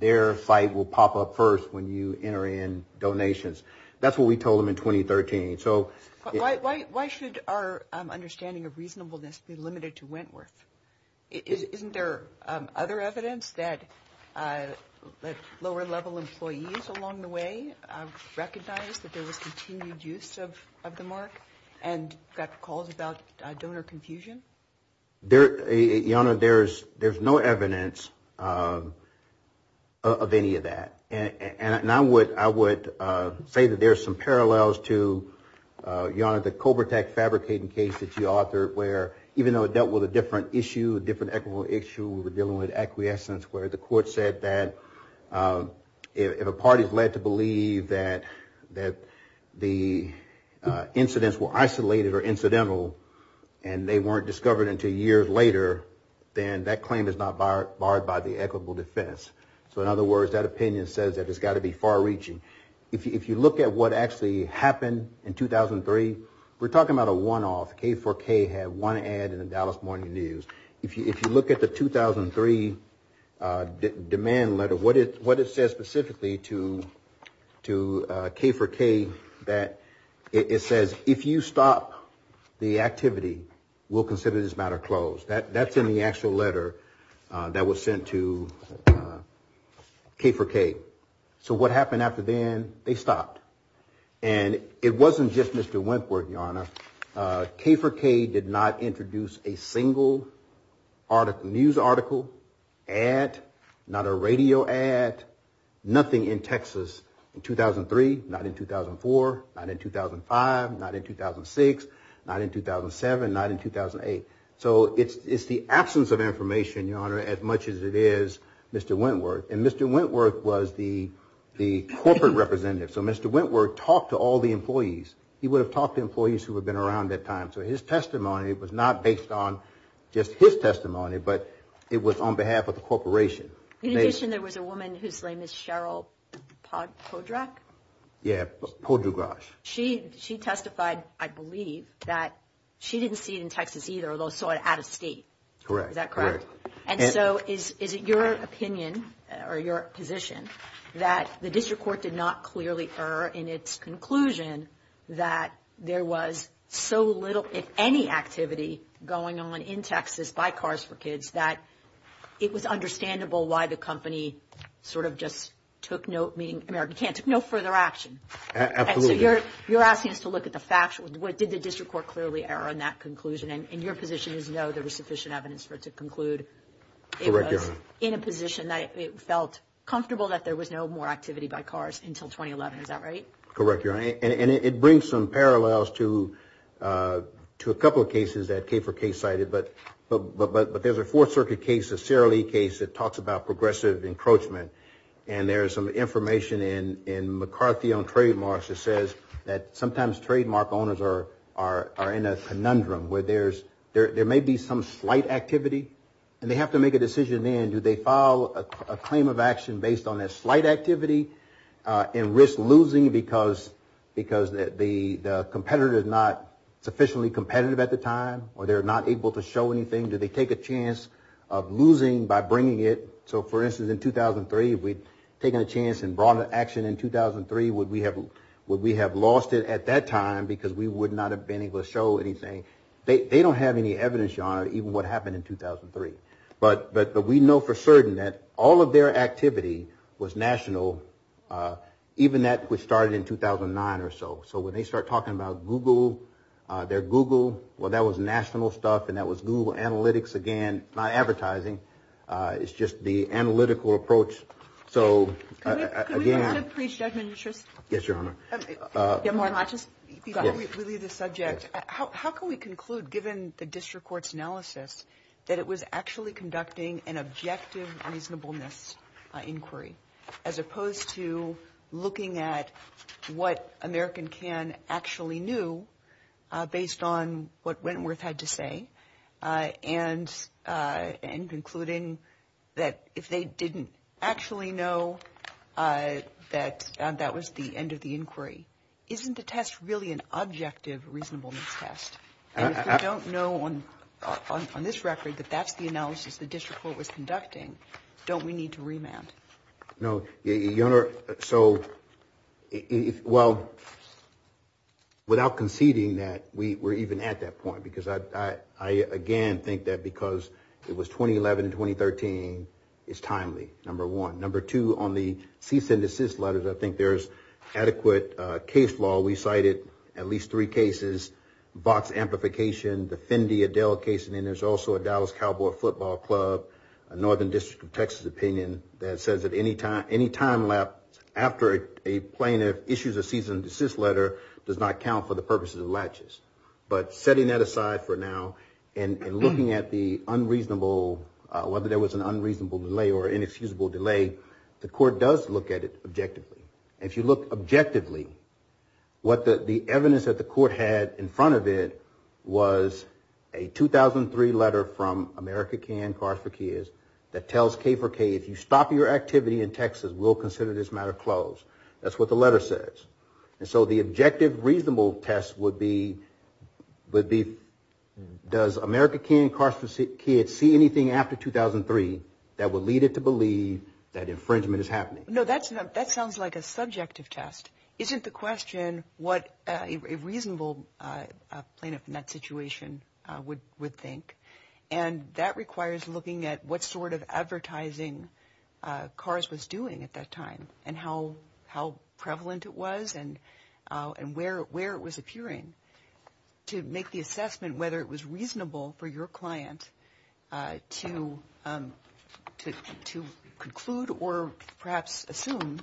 their site will pop up first when you enter in donations. That's what we told them in 2013. Why should our understanding of reasonableness be limited to Wentworth? Isn't there other evidence that lower-level employees along the way recognized that there was continued use of the mark and got calls about donor confusion? There's no evidence of any of that. I would say that there are some parallels to, Your Honor, the Cobra Tech fabricating case that you authored where even though it dealt with a different issue, a different equitable issue, dealing with acquiescence, where the court said that if a party is led to believe that the incidents were isolated or incidental and they weren't discovered until years later, then that claim is not barred by the equitable defense. So in other words, that opinion says that it's got to be far-reaching. If you look at what actually happened in 2003, we're talking about a one-off. K4K had one ad in the Dallas Morning News. If you look at the 2003 demand letter, what it says specifically to K4K that it says, if you stop the activity, we'll consider this matter closed. That's in the actual letter that was sent to K4K. So what happened after then? They stopped. And it wasn't just Mr. Wentworth, Your Honor. K4K did not introduce a single news article, ad, not a radio ad, nothing in Texas in 2003, not in 2004, not in 2005, not in 2006, not in 2007, not in 2008. So it's the absence of information, Your Honor, as much as it is Mr. Wentworth. And Mr. Wentworth was the corporate representative. So Mr. Wentworth talked to all the employees. He would have talked to employees who had been around at that time. So his testimony was not based on just his testimony, but it was on behalf of the corporation. You mentioned there was a woman whose name is Cheryl Poddrak? Yeah, Poddrak. She testified, I believe, that she didn't see it in Texas either, although saw it out of state. Correct. Is that correct? And so is it your opinion or your position that the district court did not clearly err in its conclusion that there was so little, if any, activity going on in Texas by Cars for Kids that it was understandable why the company sort of just took no further action? Absolutely. So you're asking us to look at the facts. Did the district court clearly err in that conclusion? And your position is no, there was sufficient evidence for it to conclude it was in a position that it felt comfortable that there was no more activity by Cars until 2011. Is that right? Correct, Your Honor. And it brings some parallels to a couple of cases that Kayford Kay cited. But there's a Fourth Circuit case, a CRLE case, that talks about progressive encroachment. And there's some information in McCarthy on trademarks that says that sometimes trademark owners are in a conundrum where there may be some slight activity and they have to make a decision then. Do they file a claim of action based on that slight activity and risk losing because the competitor is not sufficiently competitive at the time or they're not able to show anything? Do they take a chance of losing by bringing it? So, for instance, in 2003, if we'd taken a chance and brought an action in 2003, would we have lost it at that time because we would not have been able to show anything? They don't have any evidence, Your Honor, even what happened in 2003. But we know for certain that all of their activity was national, even that which started in 2009 or so. So when they start talking about Google, their Google, well, that was national stuff and that was Google Analytics again, not advertising. It's just the analytical approach. So, again. Yes, Your Honor. How can we conclude, given the district court's analysis, that it was actually conducting an objective reasonableness inquiry as opposed to looking at what American Can actually knew based on what Wentworth had to say and concluding that if they didn't actually know that that was the end of the inquiry, isn't the test really an objective reasonableness test? If we don't know on this record that that's the analysis the district court was conducting, don't we need to remand? No. Your Honor, so, well, without conceding that we're even at that point because I, again, think that because it was 2011-2013, it's timely, number one. Number two, on the cease and desist letters, I think there's adequate case law. We cited at least three cases. Box amplification, the Fendi Adele case. I mean, there's also a Dallas Cowboy Football Club, a Northern District of Texas opinion that says that any time lap after a plaintiff issues a cease and desist letter does not count for the purposes of latches. But setting that aside for now and looking at the unreasonable, whether there was an unreasonable delay or inexcusable delay, the court does look at it objectively. If you look objectively, what the evidence that the court had in front of it was a 2003 letter from America Can, Cars for Kids, that tells K4K, if you stop your activity in Texas, we'll consider this matter closed. That's what the letter says. And so the objective reasonable test would be, does America Can, Cars for Kids see anything after 2003 that would lead it to believe that infringement is happening? No, that sounds like a subjective test. Isn't the question what a reasonable plaintiff in that situation would think? And that requires looking at what sort of advertising Cars was doing at that time and how prevalent it was and where it was appearing to make the assessment whether it was reasonable for your client to conclude or perhaps assume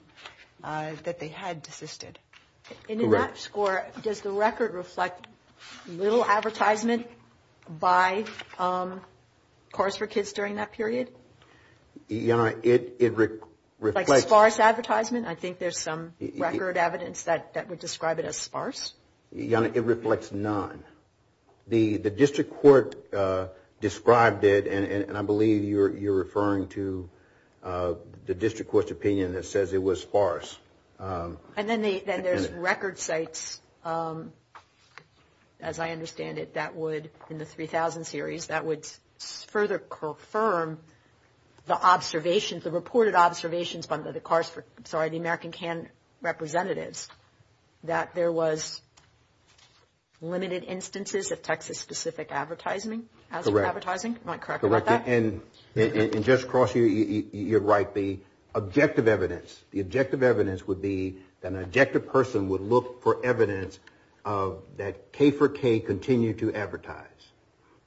that they had desisted. In that score, does the record reflect little advertisement by Cars for Kids during that period? Your Honor, it reflects... Like sparse advertisement? I think there's some record evidence that would describe it as sparse. Your Honor, it reflects none. The district court described it, and I believe you're referring to the district court's opinion that says it was sparse. And then there's record sites, as I understand it, that would, in the 3000 series, that would further confirm the observations, the reported observations from the American Can representatives, that there was limited instances of Texas-specific advertising? Correct. Am I correct with that? Correct. And just across here, you're right. The objective evidence would be that an objective person would look for evidence that K4K continued to advertise.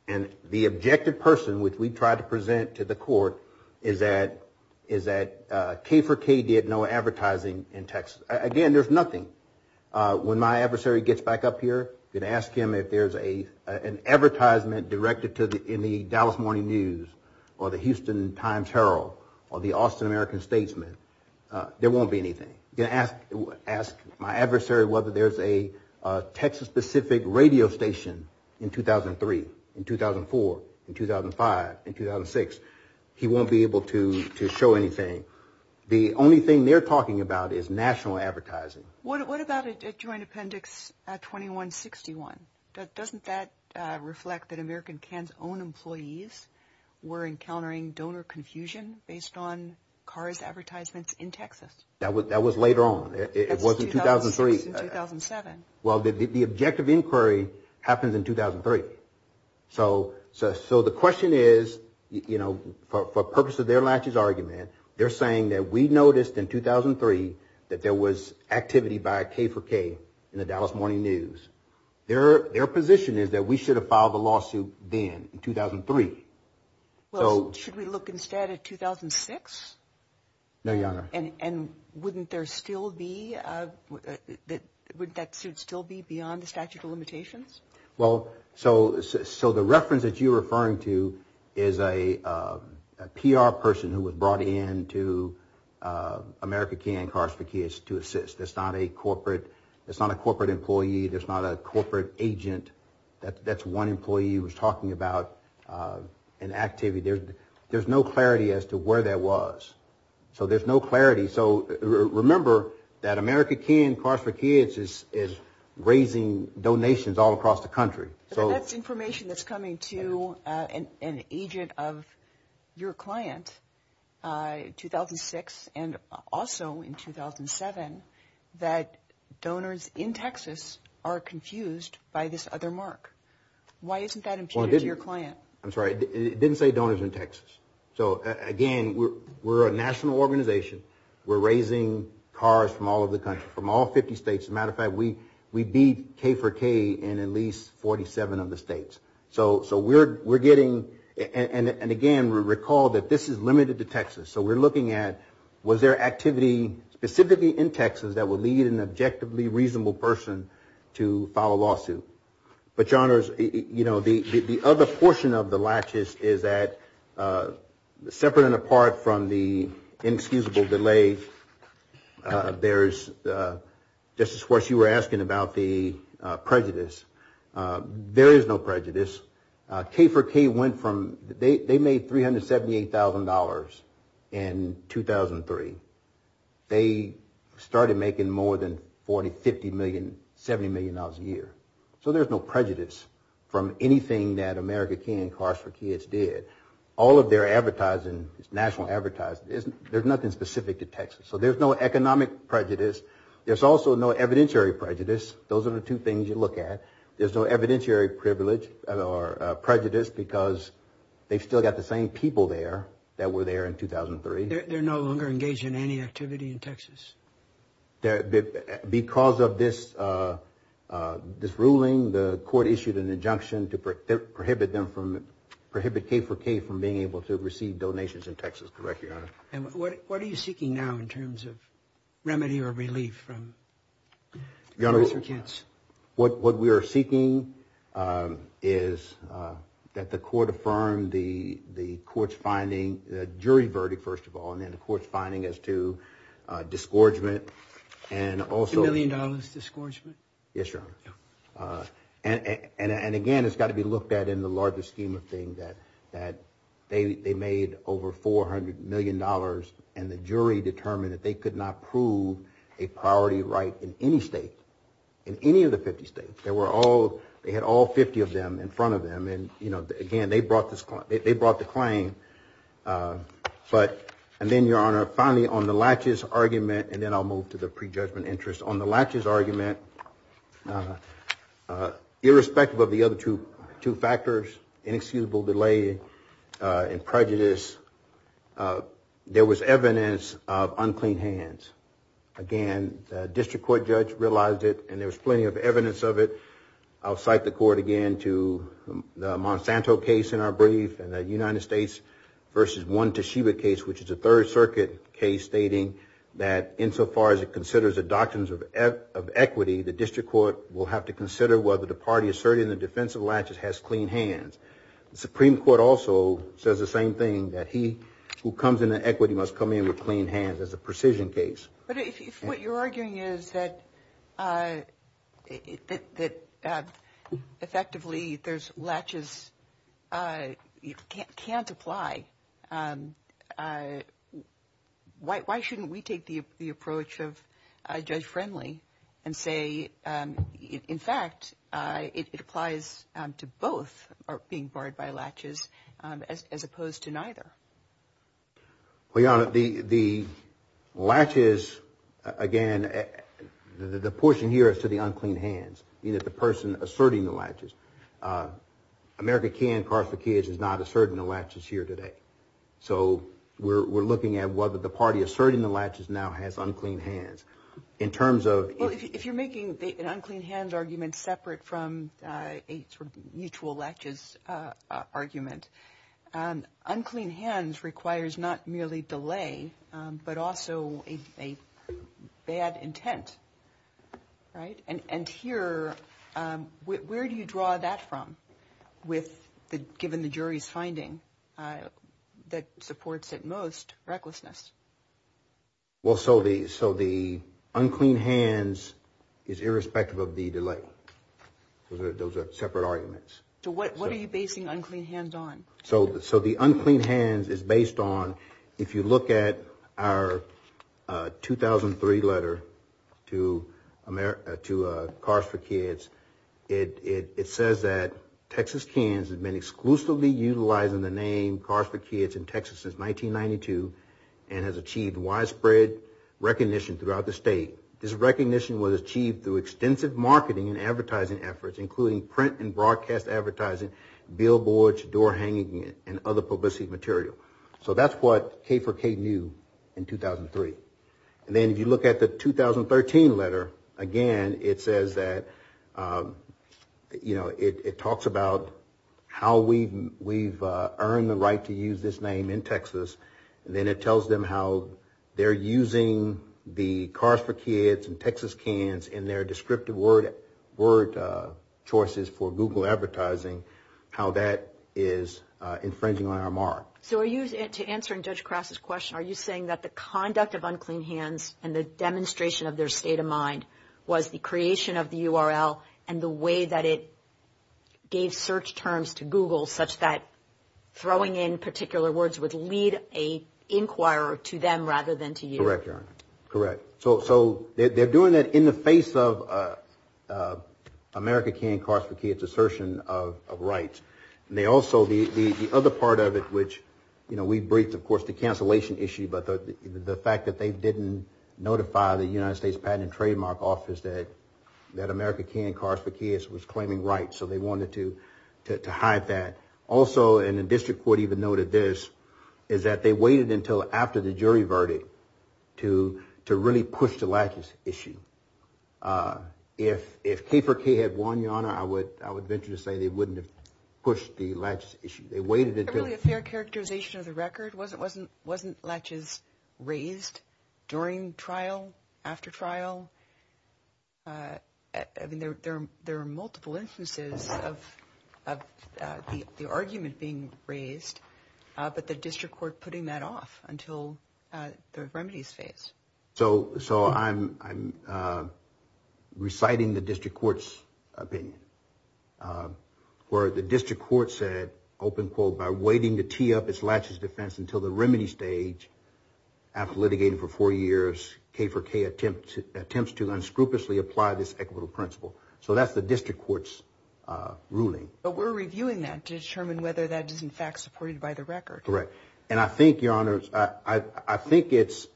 And the objective person, which we tried to present to the court, is that K4K did no advertising in Texas. Again, there's nothing. When my adversary gets back up here, I'm going to ask him if there's an advertisement directed in the Dallas Morning News or the Houston Times-Herald or the Austin American Statesman. There won't be anything. I'm going to ask my adversary whether there's a Texas-specific radio station in 2003, in 2004, in 2005, in 2006. He won't be able to show anything. The only thing they're talking about is national advertising. What about a joint appendix 2161? Doesn't that reflect that American Can's own employees were encountering donor confusion based on cards advertisements in Texas? That was later on. It wasn't 2003. It was in 2007. Well, the objective inquiry happened in 2003. So the question is, for the purpose of their last year's argument, they're saying that we noticed in 2003 that there was activity by K4K in the Dallas Morning News. Their position is that we should have filed the lawsuit then, in 2003. Well, should we look instead at 2006? No, Your Honor. And wouldn't that still be beyond the statute of limitations? Well, so the reference that you're referring to is a PR person who was brought in to American Can to assist. It's not a corporate employee. It's not a corporate agent. That's one employee who was talking about an activity. There's no clarity as to where that was. So there's no clarity. So remember that American Can, Cars for Kids, is raising donations all across the country. That's information that's coming to an agent of your client, 2006, and also in 2007, that donors in Texas are confused by this other mark. Why isn't that imputed to your client? I'm sorry. It didn't say donors in Texas. So, again, we're a national organization. We're raising cars from all over the country, from all 50 states. As a matter of fact, we beat K4K in at least 47 of the states. So we're looking at was there activity specifically in Texas that would lead an objectively reasonable person to file a lawsuit. But, Your Honors, you know, the other portion of the latches is that, separate and apart from the inexcusable delay, there's, just as far as you were asking about the prejudice, there is no prejudice. K4K went from, they made $378,000 in 2003. They started making more than $50 million, $70 million a year. So there's no prejudice from anything that American Can, Cars for Kids did. All of their advertising, national advertising, there's nothing specific to Texas. So there's no economic prejudice. There's also no evidentiary prejudice. Those are the two things you look at. There's no evidentiary privilege or prejudice because they've still got the same people there that were there in 2003. They're no longer engaged in any activity in Texas? Because of this ruling, the court issued an injunction to prohibit them from, prohibit K4K from being able to receive donations in Texas. Correct, Your Honor. And what are you seeking now in terms of remedy or relief from American Kids? What we are seeking is that the court affirm the court's finding, the jury verdict first of all, and then the court's finding as to disgorgement. $2 million disgorgement? Yes, Your Honor. And again, it's got to be looked at in the larger scheme of things that they made over $400 million and the jury determined that they could not prove a priority right in any state, in any of the 50 states. They had all 50 of them in front of them. Again, they brought the claim. And then, Your Honor, finally on the Latches argument, and then I'll move to the prejudgment interest. On the Latches argument, irrespective of the other two factors, inexcusable delay and prejudice, there was evidence of unclean hands. Again, the district court judge realized it and there was plenty of evidence of it. I'll cite the court again to the Monsanto case in our brief, the United States versus one Toshiba case, which is a Third Circuit case stating that insofar as it considers the doctrines of equity, the district court will have to consider whether the party asserting the defense of Latches has clean hands. The Supreme Court also says the same thing, that he who comes into equity must come in with clean hands as a precision case. But if what you're arguing is that effectively Latches can't apply, why shouldn't we take the approach of Judge Friendly and say, in fact, it applies to both being barred by Latches as opposed to neither? Well, Your Honor, the Latches, again, the portion here is to the unclean hands, the person asserting the Latches. America Can, Carthage Kids, is not asserting the Latches here today. So we're looking at whether the party asserting the Latches now has unclean hands. If you're making an unclean hands argument separate from a mutual Latches argument, unclean hands requires not merely delay but also a bad intent. And here, where do you draw that from, given the jury's finding that supports at most recklessness? Well, so the unclean hands is irrespective of the delay. Those are separate arguments. So what are you basing unclean hands on? So the unclean hands is based on, if you look at our 2003 letter to Carthage Kids, it says that Texas Cans has been exclusively utilizing the name Carthage Kids in Texas since 1992 and has achieved widespread recognition throughout the state. This recognition was achieved through extensive marketing and advertising efforts, including print and broadcast advertising, billboards, door hanging, and other publicity material. So that's what K4K knew in 2003. And then if you look at the 2013 letter, again, it says that, you know, it talks about how we've earned the right to use this name in Texas, and then it tells them how they're using the Carthage Kids and Texas Cans in their descriptive word choices for Google advertising, how that is infringing on our mark. So are you, to answer Judge Krause's question, are you saying that the conduct of unclean hands and the demonstration of their state of mind was the creation of the URL and the way that it gave search terms to Google, such that throwing in particular words would lead an inquirer to them rather than to you? Correct, correct. So they're doing that in the face of America Can, Carthage Kids, assertion of rights. They also, the other part of it, which, you know, we've briefed, of course, the cancellation issue, but the fact that they didn't notify the United States Patent and Trademark Office that America Can, Carthage Kids, was claiming rights, so they wanted to hide that. Also, and the district court even noted this, is that they waited until after the jury verdict to really push the latches issue. If Keeper Key had won, Your Honor, I would venture to say they wouldn't have pushed the latches issue. They waited until- Really, a fair characterization of the record? Wasn't latches raised during trial, after trial? I mean, there are multiple instances of the argument being raised, but the district court putting that off until the remedies phase. So I'm reciting the district court's opinion, where the district court said, open quote, by waiting to tee up its latches defense until the remedy stage, after litigating for four years, Keeper Key attempts to unscrupulously apply this equitable principle. So that's the district court's ruling. But we're reviewing that to determine whether that is, in fact, supported by the record. Correct. And I think, Your Honor, I think it's-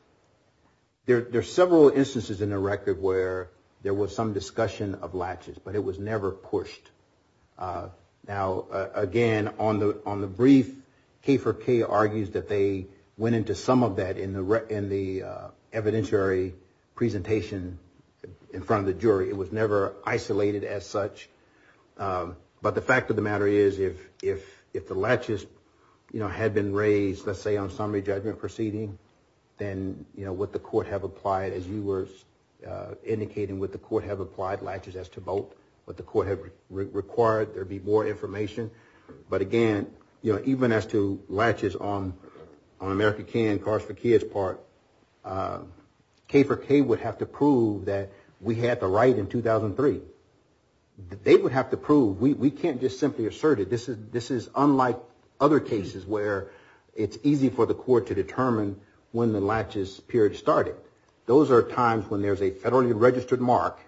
There's several instances in the record where there was some discussion of latches, but it was never pushed. Now, again, on the brief, Keeper Key argues that they went into some of that in the evidentiary presentation in front of the jury. It was never isolated as such. But the fact of the matter is, if the latches had been raised, let's say, on summary judgment proceeding, then what the court have applied, as you were indicating, what the court have applied latches as to vote, what the court had required, there'd be more information. But, again, even as to latches on America Can, Cars for Kids part, Keeper Key would have to prove that we had the right in 2003. They would have to prove, we can't just simply assert it. This is unlike other cases where it's easy for the court to determine when the latches period started. Those are times when there's a federally registered mark,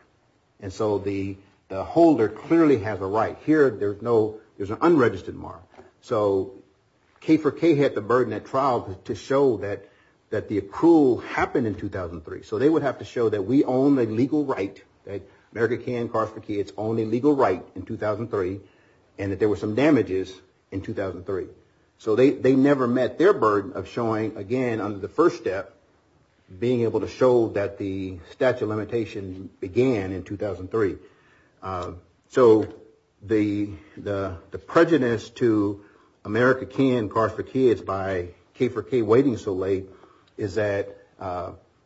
and so the holder clearly has a right. Here, there's an unregistered mark. So, K for K had the burden at trial to show that the approval happened in 2003. So they would have to show that we own a legal right, that America Can, Cars for Kids, own a legal right in 2003, and that there were some damages in 2003. So they never met their burden of showing, again, under the first step, being able to show that the statute of limitations began in 2003. So the prejudice to America Can, Cars for Kids, by K for K waiting so late, is that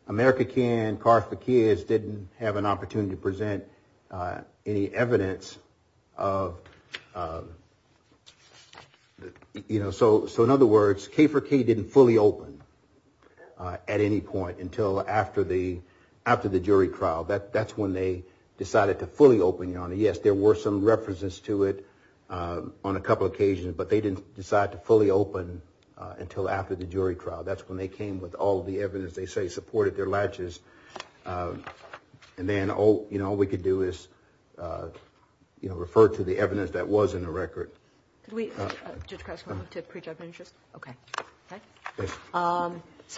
America Can, Cars for Kids, didn't have an opportunity to present any evidence. So, in other words, K for K didn't fully open at any point until after the jury trial. That's when they decided to fully open. Yes, there were some references to it on a couple of occasions, but they didn't decide to fully open until after the jury trial. That's when they came with all the evidence they say supported their latches. And then all we could do is refer to the evidence that was in the record. So,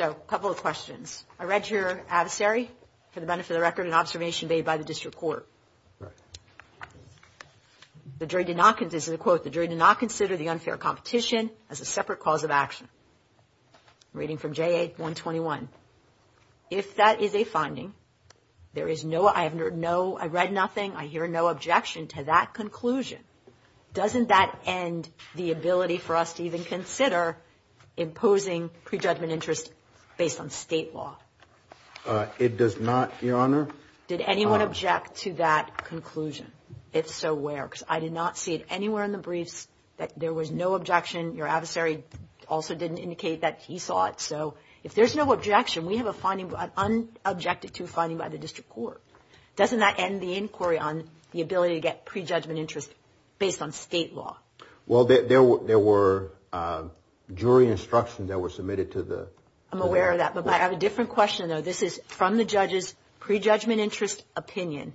a couple of questions. I read your adversary, for the benefit of the record, an observation made by the district court. The jury did not consider, this is a quote, the jury did not consider the unfair competition as a separate cause of action. Reading from JA 121. If that is a finding, there is no, I have no, I read nothing, I hear no objection to that conclusion. Doesn't that end the ability for us to even consider imposing prejudgment interest based on state law? It does not, Your Honor. Did anyone object to that conclusion? If so, where? Because I did not see it anywhere in the briefs that there was no objection. Your adversary also didn't indicate that he thought so. If there's no objection, we have a finding, an unobjected to finding by the district court. Doesn't that end the inquiry on the ability to get prejudgment interest based on state law? Well, there were jury instructions that were submitted to the. I'm aware of that, but I have a different question, though. This is from the judge's prejudgment interest opinion.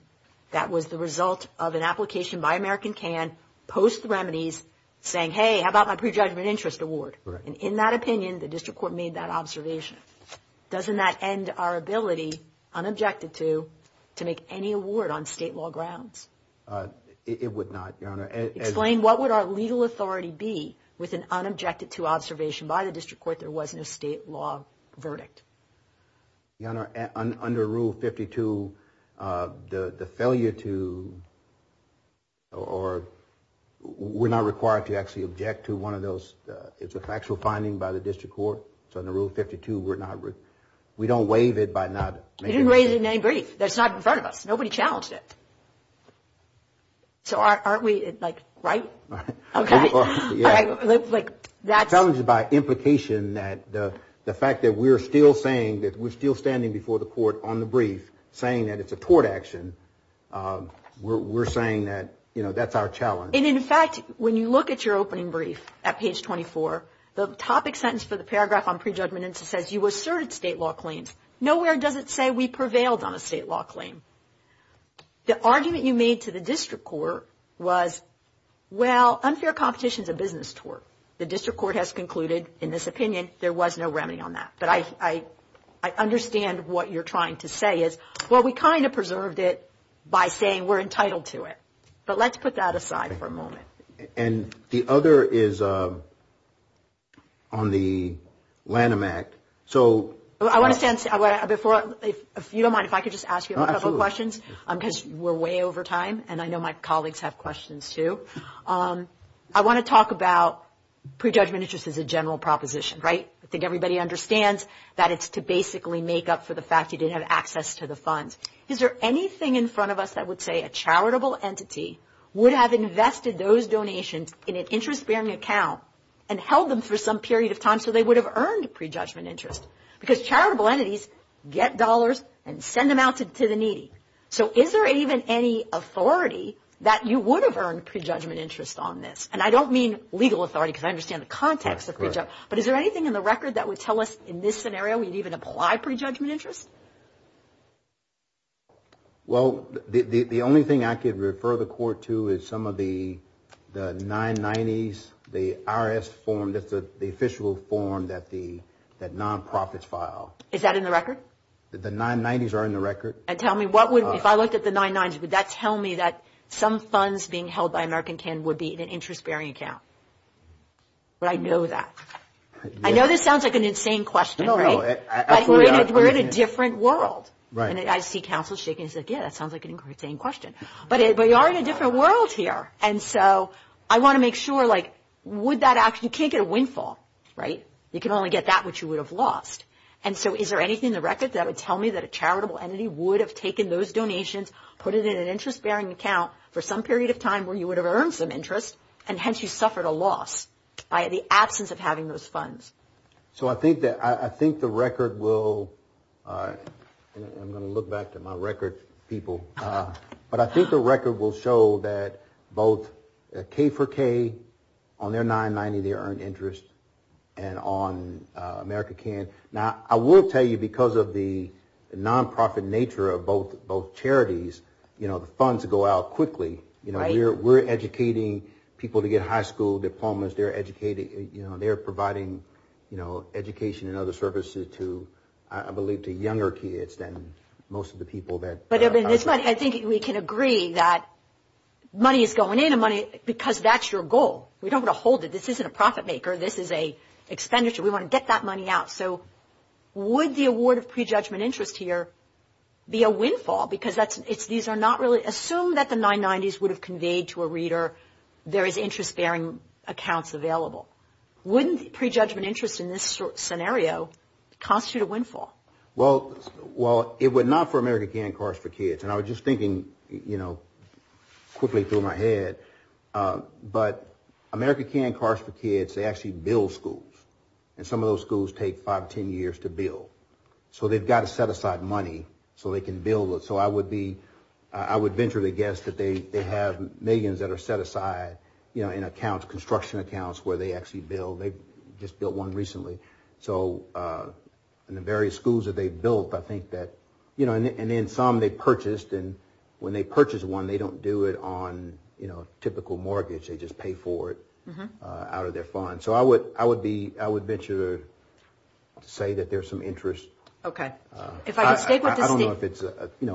That was the result of an application by American Can, post remedies, saying, hey, how about my prejudgment interest award? And in that opinion, the district court made that observation. Doesn't that end our ability, unobjected to, to make any award on state law grounds? It would not, Your Honor. Explain what would our legal authority be with an unobjected to observation by the district court there wasn't a state law verdict? Your Honor, under Rule 52, the failure to or we're not required to actually object to one of those. It's a factual finding by the district court. So under Rule 52, we're not, we don't waive it by not. You didn't raise it in any brief. That's not in front of us. Nobody challenged it. So aren't we, like, right? Okay. That was by implication that the fact that we're still saying that we're still standing before the court on the brief, saying that it's a tort action, we're saying that, you know, that's our challenge. And, in fact, when you look at your opening brief at page 24, the topic sentence for the paragraph on prejudgment says you asserted state law claims. Nowhere does it say we prevailed on a state law claim. The argument you made to the district court was, well, unfair competition is a business tort. The district court has concluded, in this opinion, there was no remedy on that. But I understand what you're trying to say is, well, we kind of preserved it by saying we're entitled to it. But let's put that aside for a moment. And the other is on the Lanham Act. So I want to say before, if you don't mind, if I could just ask you a couple of questions, because we're way over time and I know my colleagues have questions, too. I want to talk about prejudgment issues as a general proposition, right? I think everybody understands that it's to basically make up for the fact you didn't have access to the funds. Is there anything in front of us that would say a charitable entity would have invested those donations in an interest-bearing account and held them for some period of time so they would have earned prejudgment interest? Because charitable entities get dollars and send them out to the needy. So is there even any authority that you would have earned prejudgment interest on this? And I don't mean legal authority because I understand the context of prejudgment, but is there anything in the record that would tell us in this scenario we'd even apply prejudgment interest? Well, the only thing I could refer the Court to is some of the 990s, the IRS form, the official form that nonprofits file. Is that in the record? The 990s are in the record. And tell me, if I looked at the 990s, did that tell me that some funds being held by American Can would be in an interest-bearing account? But I know that. I know that sounds like an insane question, right? But we're in a different world. And I see counsel shaking his head, yeah, that sounds like an insane question. But we are in a different world here. And so I want to make sure, like, you can't get a windfall, right? You can only get that which you would have lost. And so is there anything in the record that would tell me that a charitable entity would have taken those donations, put it in an interest-bearing account for some period of time where you would have earned some interest and hence you suffered a loss by the absence of having those funds? So I think the record will – I'm going to look back to my record, people. But I think the record will show that both K4K on their 990, they earned interest, and on American Can. Now, I will tell you, because of the nonprofit nature of both charities, you know, the funds go out quickly. We're educating people to get high school diplomas. They're providing education and other services to, I believe, to younger kids than most of the people that – But I think we can agree that money is going in and money – because that's your goal. We don't want to hold it. This isn't a profit maker. This is an expenditure. We want to get that money out. So would the award of prejudgment interest here be a windfall? Because these are not really – assume that the 990s would have conveyed to a reader, there is interest-bearing accounts available. Wouldn't prejudgment interest in this scenario constitute a windfall? Well, it would not for American Can and Cars for Kids. And I was just thinking, you know, quickly through my head, but American Can and Cars for Kids, they actually build schools, and some of those schools take five, ten years to build. So they've got to set aside money so they can build. So I would venture to guess that they have millions that are set aside in accounts, construction accounts, where they actually build. They just built one recently. So in the various schools that they've built, I think that – And then some they purchased, and when they purchase one, they don't do it on typical mortgage. They just pay for it out of their fund. So I would venture to say that there's some interest. Okay. I don't know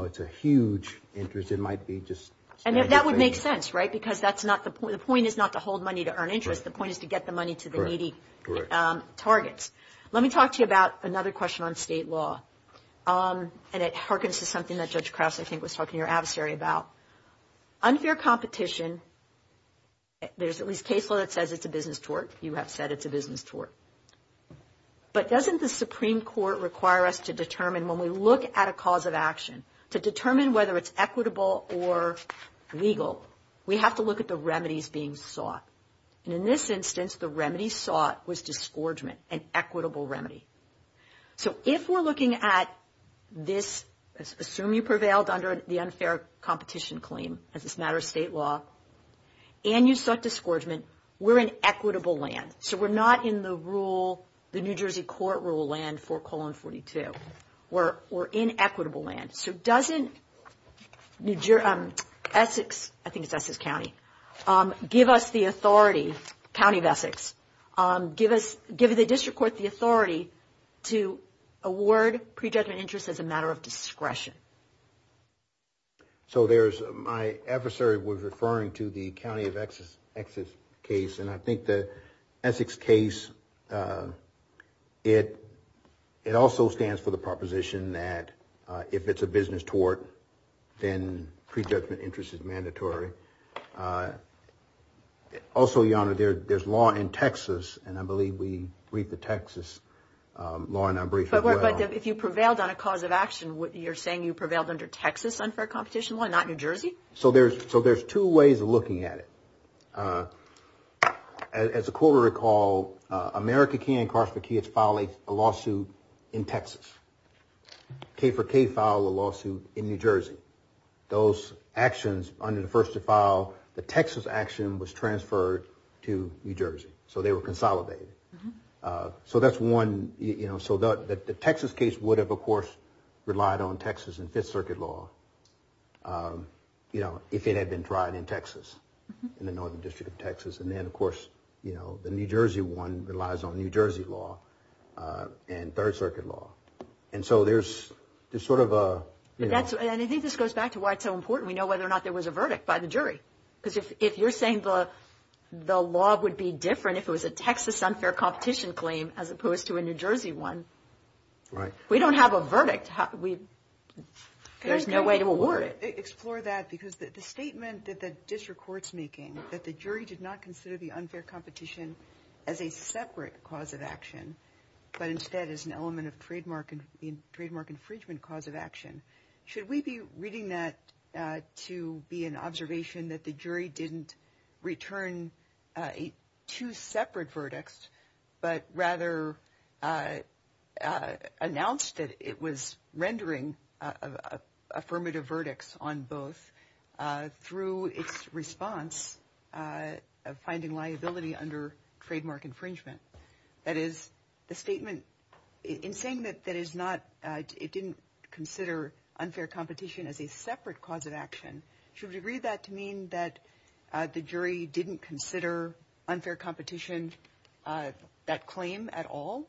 if it's a huge interest. It might be just – And that would make sense, right? Because that's not the point. The point is not to hold money to earn interest. The point is to get the money to the needy targets. Let me talk to you about another question on state law, and it harkens to something that Judge Krause, I think, was talking to your adversary about. Unfair competition, there's at least case law that says it's a business tort. You have said it's a business tort. But doesn't the Supreme Court require us to determine, when we look at a cause of action, to determine whether it's equitable or legal, we have to look at the remedies being sought. And in this instance, the remedy sought was disgorgement, an equitable remedy. So if we're looking at this, assume you prevailed under the unfair competition claim, as a matter of state law, and you sought disgorgement, we're in equitable land. So we're not in the rule, the New Jersey court rule land for colon 42. We're in equitable land. So doesn't Essex – I think it's Essex County – give us the authority, give the district court the authority to award prejudgment interest as a matter of discretion? So there's – my adversary was referring to the County of Exe's case, and I think the Essex case, it also stands for the proposition that if it's a business tort, then prejudgment interest is mandatory. Also, Your Honor, there's law in Texas, and I believe we read the Texas law in our brief as well. But if you prevailed on a cause of action, you're saying you prevailed under Texas unfair competition law, not New Jersey? So there's two ways of looking at it. As the court will recall, America King and Carlsberg Kids filed a lawsuit in Texas. K for K filed a lawsuit in New Jersey. Those actions, under the first to file, the Texas action was transferred to New Jersey. So they were consolidated. So that's one – so the Texas case would have, of course, relied on Texas and Fifth Circuit law, if it had been tried in Texas, in the Northern District of Texas. And then, of course, the New Jersey one relies on New Jersey law and Third Circuit law. And so there's sort of a – And I think this goes back to why it's so important. We know whether or not there was a verdict by the jury. Because if you're saying the law would be different if it was a Texas unfair competition claim as opposed to a New Jersey one, we don't have a verdict. There's no way to award it. Explore that, because the statement that the district court's making, but instead is an element of trademark infringement cause of action. Should we be reading that to be an observation that the jury didn't return two separate verdicts, but rather announced that it was rendering affirmative verdicts on both through its response of finding liability under trademark infringement? That is, the statement – in saying that it didn't consider unfair competition as a separate cause of action, should we read that to mean that the jury didn't consider unfair competition that claim at all?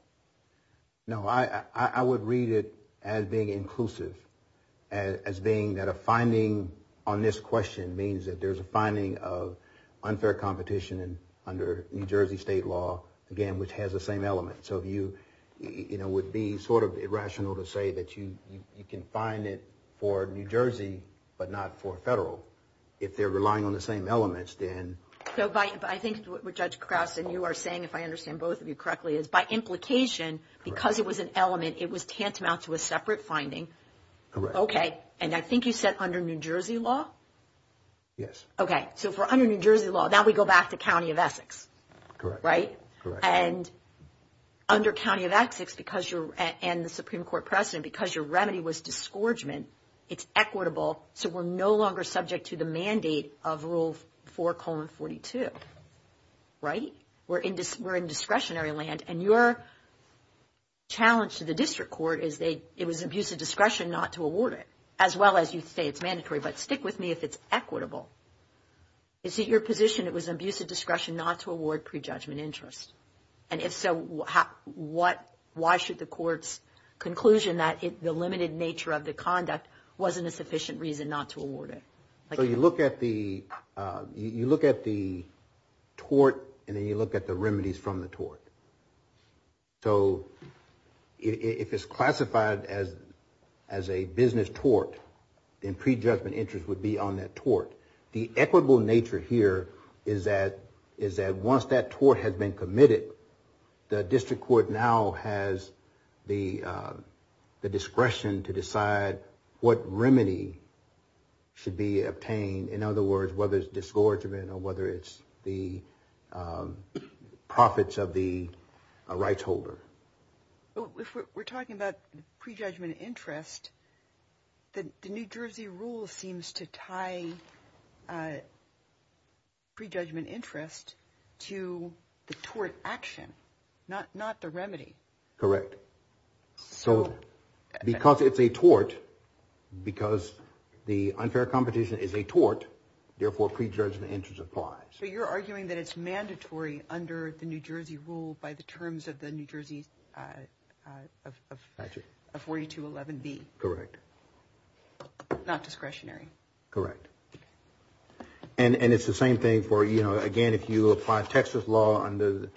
No. I would read it as being inclusive, as being that a finding on this question means that there's a finding of unfair competition under New Jersey state law, again, which has the same element. So it would be sort of irrational to say that you can find it for New Jersey, but not for federal. If they're relying on the same elements, then – So I think what Judge Krause and you are saying, if I understand both of you correctly, is by implication, because it was an element, it was tantamount to a separate finding. Correct. Okay. And I think you said under New Jersey law? Yes. Okay. So if we're under New Jersey law, now we go back to County of Essex. Correct. Right? Correct. And under County of Essex, because you're – and the Supreme Court precedent, because your remedy was disgorgement, it's equitable, so we're no longer subject to the mandate of Rule 4, 42. Right? We're in discretionary land, and your challenge to the district court is that it was an abuse of discretion not to award it, as well as you say it's mandatory, but stick with me if it's equitable. Is it your position it was an abuse of discretion not to award prejudgment interest? And if so, why should the court's conclusion that the limited nature of the conduct wasn't a sufficient reason not to award it? So you look at the tort, and then you look at the remedies from the tort. So if it's classified as a business tort, then prejudgment interest would be on that tort. The equitable nature here is that once that tort has been committed, the district court now has the discretion to decide what remedy should be obtained. In other words, whether it's disgorgement or whether it's the profits of the rights holder. If we're talking about prejudgment interest, the New Jersey rule seems to tie prejudgment interest to the tort action, not the remedy. Correct. So because it's a tort, because the unfair competition is a tort, therefore prejudgment interest applies. So you're arguing that it's mandatory under the New Jersey rule by the terms of the New Jersey 4211B. Correct. Not discretionary. Correct. And it's the same thing for, you know, again, if you apply Texas law under the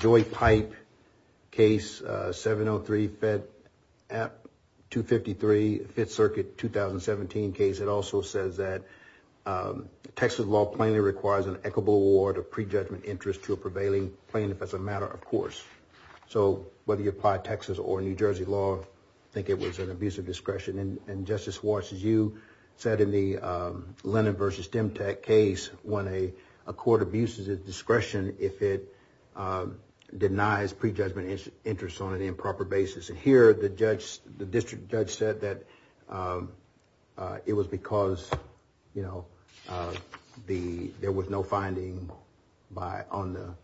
Joy Pipe case, 703-253, Fifth Circuit 2017 case, it also says that Texas law plainly requires an equitable award of prejudgment interest to a prevailing plaintiff as a matter of course. So whether you apply Texas or New Jersey law, I think it was an abuse of discretion. And Justice Watts, as you said in the Lennon v. Stemtack case, when a court abuses its discretion if it denies prejudgment interest on an improper basis. And here the district judge said that it was because, you know, there was no finding on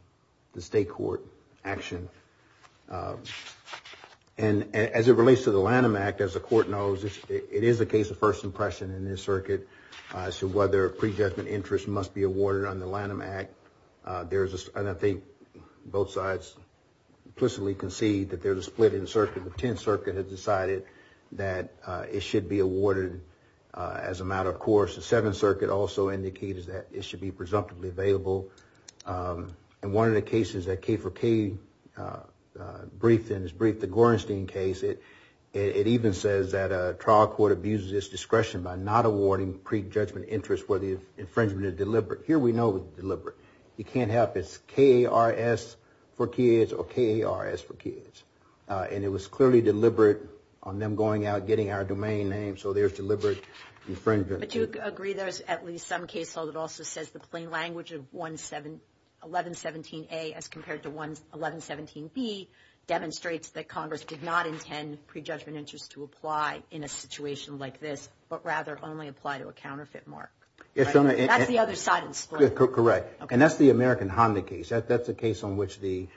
the state court action. And as it relates to the Lanham Act, as the court knows, it is a case of first impression in this circuit as to whether prejudgment interest must be awarded under the Lanham Act. And I think both sides implicitly concede that there's a split in the circuit. The Tenth Circuit has decided that it should be awarded as a matter of course. The Seventh Circuit also indicated that it should be presumptively available. And one of the cases that K4K briefed in is the Gorenstein case. It even says that a trial court abuses its discretion by not awarding prejudgment interest where the infringement is deliberate. Here we know it's deliberate. You can't have it K-A-R-S for kids or K-A-R-S for kids. And it was clearly deliberate on them going out, getting our domain name, so there's deliberate infringement. But do you agree there's at least some case where it also says the plain language of 1117-A as compared to 1117-B demonstrates that Congress did not intend prejudgment interest to apply in a situation like this, but rather only apply to a counterfeit mark? That's the other side of the split. Correct. And that's the American Honda case. That's the case on which the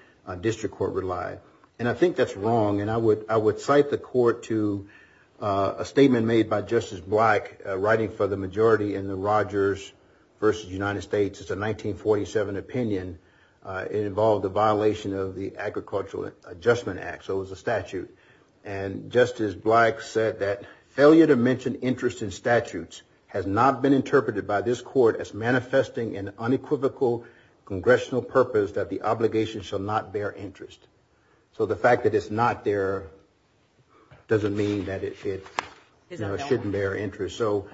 district court relied. And I think that's wrong, and I would cite the court to a statement made by Justice Black writing for the majority in the Rogers v. United States. It's a 1947 opinion. It involved a violation of the Agricultural Adjustment Act, so it was a statute. And Justice Black said that failure to mention interest in statutes has not been interpreted by this court as manifesting an unequivocal congressional purpose that the obligation shall not bear interest. So the fact that it's not there doesn't mean that it shouldn't bear interest. So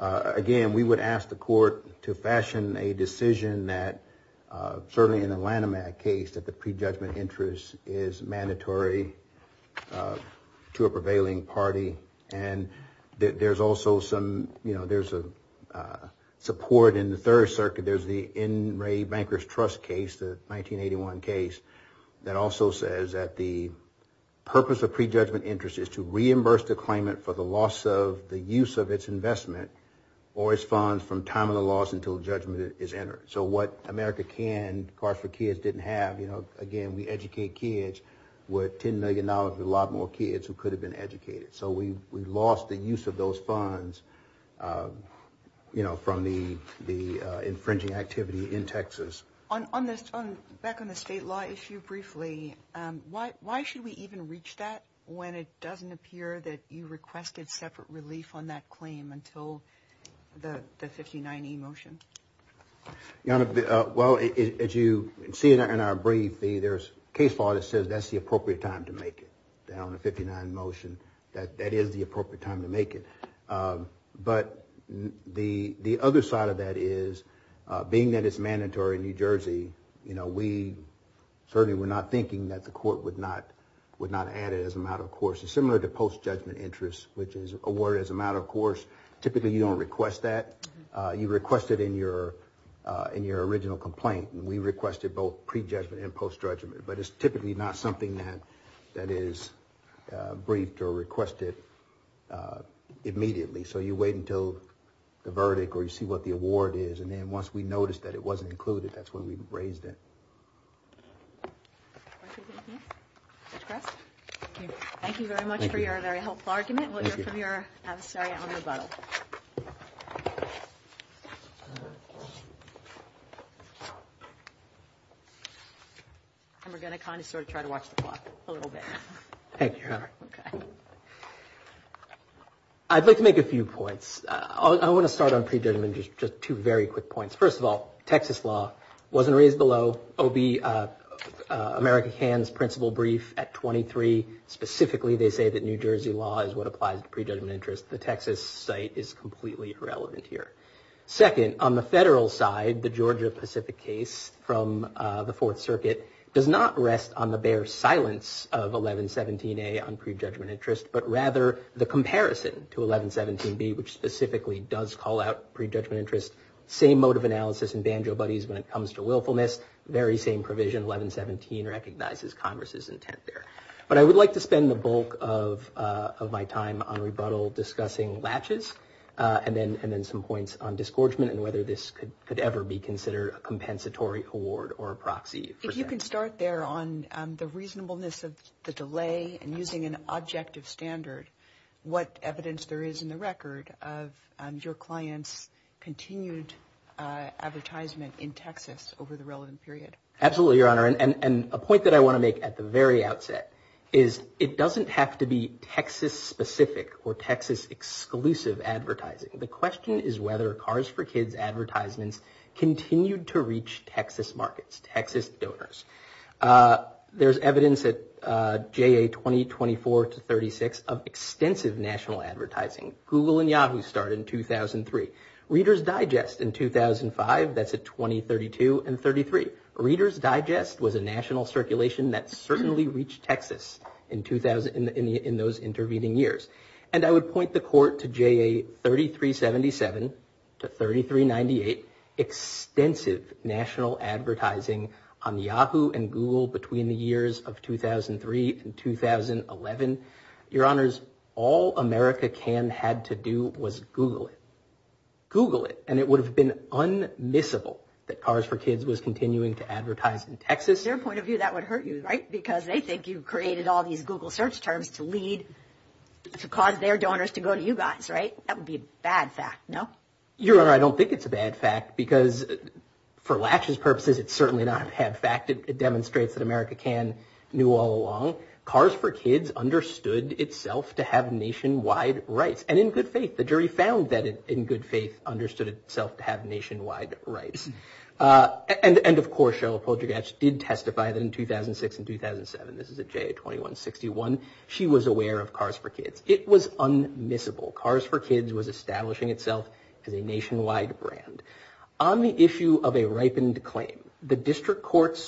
again, we would ask the court to fashion a decision that, certainly in the Lanham Act case, that the prejudgment interest is mandatory to a prevailing party. And there's also some support in the Third Circuit. There's the N. Ray Bankers Trust case, the 1981 case, that also says that the purpose of prejudgment interest is to reimburse the claimant for the loss of the use of its investment or its funds from time of the loss until judgment is entered. So what America can cost for kids didn't have. Again, we educate kids with $10 million with a lot more kids who could have been educated. So we lost the use of those funds from the infringing activity in Texas. Back on the state law issue briefly, why should we even reach that when it doesn't appear that you requested separate relief on that claim until the 59E motion? Your Honor, well, as you see in our brief, there's case law that says that's the appropriate time to make it, down in the 59 motion. That is the appropriate time to make it. But the other side of that is, being that it's mandatory in New Jersey, we certainly were not thinking that the court would not add it as a matter of course. It's similar to post-judgment interest, which is awarded as a matter of course. Typically, you don't request that. You request it in your original complaint. And we requested both pre-judgment and post-judgment. But it's typically not something that is briefed or requested immediately. So you wait until the verdict or you see what the award is. And then once we notice that it wasn't included, that's when we raise it. Thank you very much for your very helpful argument. We'll hear from your adversary on the vote. And we're going to kind of sort of try to watch the clock a little bit. Thank you, Your Honor. Okay. I'd like to make a few points. I want to start on pre-judgment interest. Just two very quick points. First of all, Texas law wasn't raised below OBI, America Can's principal brief at 23. Specifically, they say that New Jersey law is what applies to pre-judgment interest. The Texas site is completely irrelevant here. Second, on the federal side, the Georgia Pacific case from the Fourth Circuit does not rest on the bare silence of 1117A on pre-judgment interest, but rather the comparison to 1117B, which specifically does call out pre-judgment interest. Same mode of analysis in Banjo Buddies when it comes to willfulness. Very same provision. 1117 recognizes Congress's intent there. But I would like to spend the bulk of my time on rebuttal discussing latches and then some points on disgorgement and whether this could ever be considered a compensatory award or a proxy. If you can start there on the reasonableness of the delay and using an objective standard, what evidence there is in the record of your client's continued advertisement in Texas over the relevant period? Absolutely, Your Honor. A point that I want to make at the very outset is it doesn't have to be Texas-specific or Texas-exclusive advertising. The question is whether Cars for Kids advertisements continued to reach Texas markets, Texas donors. There's evidence at JA 20, 24, to 36 of extensive national advertising. Google and Yahoo started in 2003. Reader's Digest in 2005, that's at 20, 32, and 33. Reader's Digest was a national circulation that certainly reached Texas in those intervening years. And I would point the court to JA 3377 to 3398, extensive national advertising on Yahoo and Google between the years of 2003 and 2011. Your Honors, all America can had to do was Google it. And it would have been unmissable that Cars for Kids was continuing to advertise in Texas. From their point of view, that would hurt you, right? Because they think you've created all these Google search terms to lead, to cause their donors to go to you guys, right? That would be a bad fact, no? Your Honor, I don't think it's a bad fact because for Lash's purposes, it's certainly not a bad fact. It demonstrates that America can knew all along. Cars for Kids understood itself to have nationwide rights. And in good faith, the jury found that in good faith understood itself to have nationwide rights. And, of course, Cheryl Poljugach did testify in 2006 and 2007. This is at JA 2161. She was aware of Cars for Kids. It was unmissable. Cars for Kids was establishing itself as a nationwide brand. On the issue of a ripened claim, the district court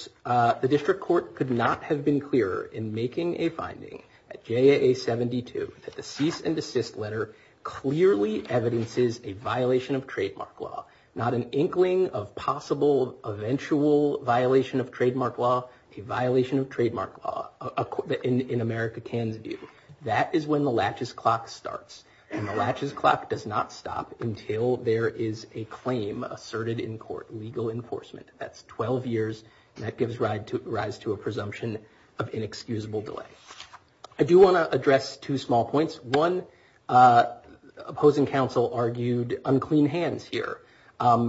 could not have been clearer in making a finding at JA 72 that the cease and desist letter clearly evidences a violation of trademark law. Not an inkling of possible eventual violation of trademark law, a violation of trademark law in America can do. That is when the Latch's Clock starts. And the Latch's Clock does not stop until there is a claim asserted in court, legal enforcement. That's 12 years, and that gives rise to a presumption of inexcusable delay. I do want to address two small points. One, opposing counsel argued unclean hands here.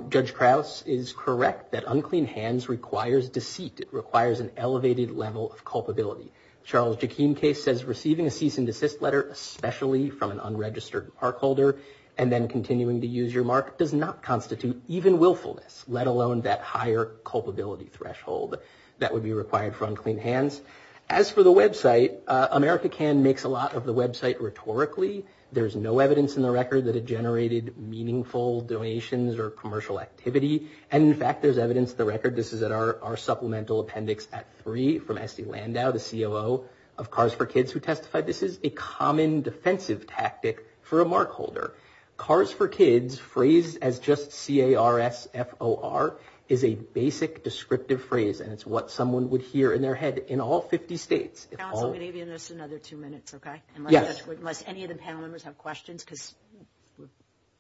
Judge Krause is correct that unclean hands requires deceit. It requires an elevated level of culpability. Charles Jakim case says receiving a cease and desist letter, especially from an unregistered park holder, and then continuing to use your mark does not constitute even willfulness, let alone that higher culpability threshold that would be required for unclean hands. As for the website, America Can makes a lot of the website rhetorically. There's no evidence in the record that it generated meaningful donations or commercial activity. And, in fact, there's evidence in the record, this is at our supplemental appendix at three from Estee Landau, the COO of Cars for Kids who testified, this is a common defensive tactic for a mark holder. Cars for Kids, phrased as just C-A-R-S-F-O-R, is a basic descriptive phrase, and it's what someone would hear in their head in all 50 states. Counsel, we need to give this another two minutes, okay? Yes. Unless any of the panel members have questions, because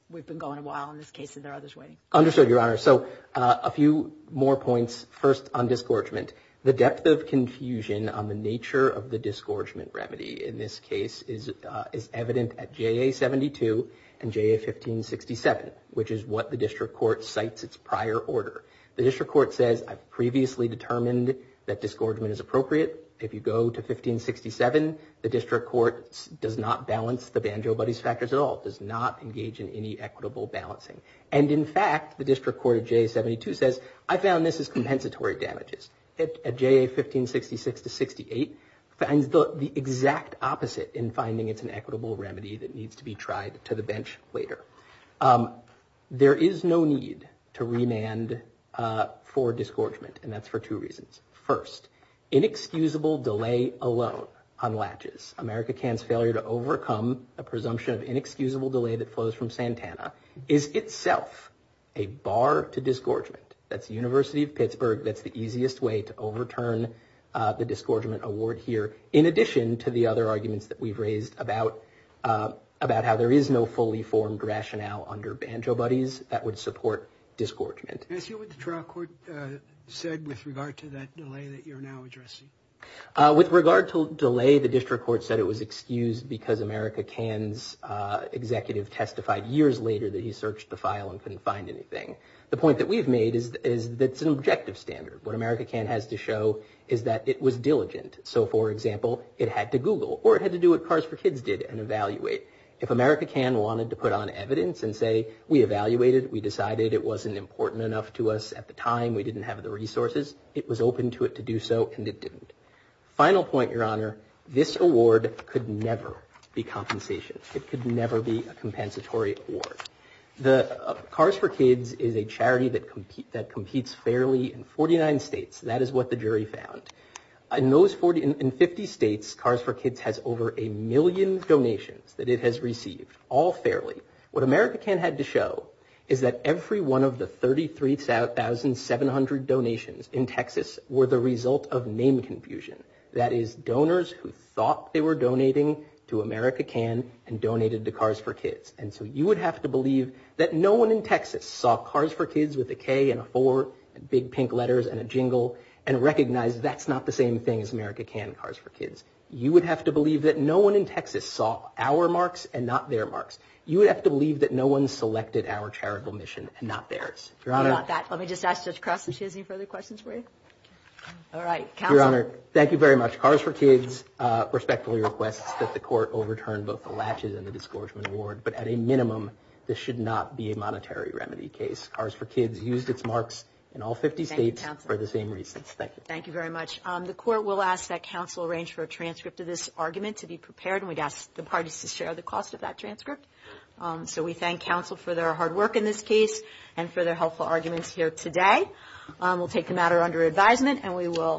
we've been going a while in this case and there are others waiting. Understood, Your Honor. So a few more points. First, on disgorgement. The depth of confusion on the nature of the disgorgement remedy in this case is evident at J-A-72 and J-A-1567, which is what the district court cites its prior order. The district court says, I've previously determined that disgorgement is appropriate. If you go to 1567, the district court does not balance the Banjo Buddies factors at all, does not engage in any equitable balancing. And, in fact, the district court at J-A-72 says, I found this as compensatory damages. At J-A-1566 to 68, finds the exact opposite in finding it's an equitable remedy that needs to be tried to the bench later. There is no need to remand for disgorgement, and that's for two reasons. First, inexcusable delay alone on latches, America Can's failure to overcome a presumption of inexcusable delay that flows from Santana, is itself a bar to disgorgement. That's the University of Pittsburgh. That's the easiest way to overturn the disgorgement award here, in addition to the other arguments that we've raised about how there is no fully formed rationale under Banjo Buddies that would support disgorgement. Is that what the trial court said with regard to that delay that you're now addressing? With regard to delay, the district court said it was excused because America Can's executive testified years later that he searched the file and couldn't find anything. The point that we've made is that it's an objective standard. What America Can has to show is that it was diligent. So, for example, it had to Google, or it had to do what Cars for Kids did and evaluate. If America Can wanted to put on evidence and say, we evaluated, we decided, it wasn't important enough to us at the time, we didn't have the resources, it was open to it to do so, and it didn't. Final point, Your Honor, this award could never be compensation. It could never be a compensatory award. Cars for Kids is a charity that competes fairly in 49 states. That is what the jury found. In 50 states, Cars for Kids has over a million donations that it has received, all fairly. What America Can had to show is that every one of the 33,700 donations in Texas were the result of name confusion. That is, donors who thought they were donating to America Can and donated to Cars for Kids. And so you would have to believe that no one in Texas saw Cars for Kids with a K and a 4 and big pink letters and a jingle and recognized that's not the same thing as America Can Cars for Kids. You would have to believe that no one in Texas saw our marks and not their marks. You would have to believe that no one selected our charitable mission and not theirs. Your Honor. Let me just ask this question. She has any further questions for you? Your Honor, thank you very much. Cars for Kids respectfully requests that the court overturn both the laches and the disgorgement award, but at a minimum this should not be a monetary remedy case. Cars for Kids used its marks in all 50 states for the same reasons. Thank you. Thank you very much. The court will ask that counsel arrange for a transcript of this argument to be prepared, and we'd ask the parties to share the cost of that transcript. So we thank counsel for their hard work in this case and for their helpful arguments here today. We'll take the matter under advisement, and we will.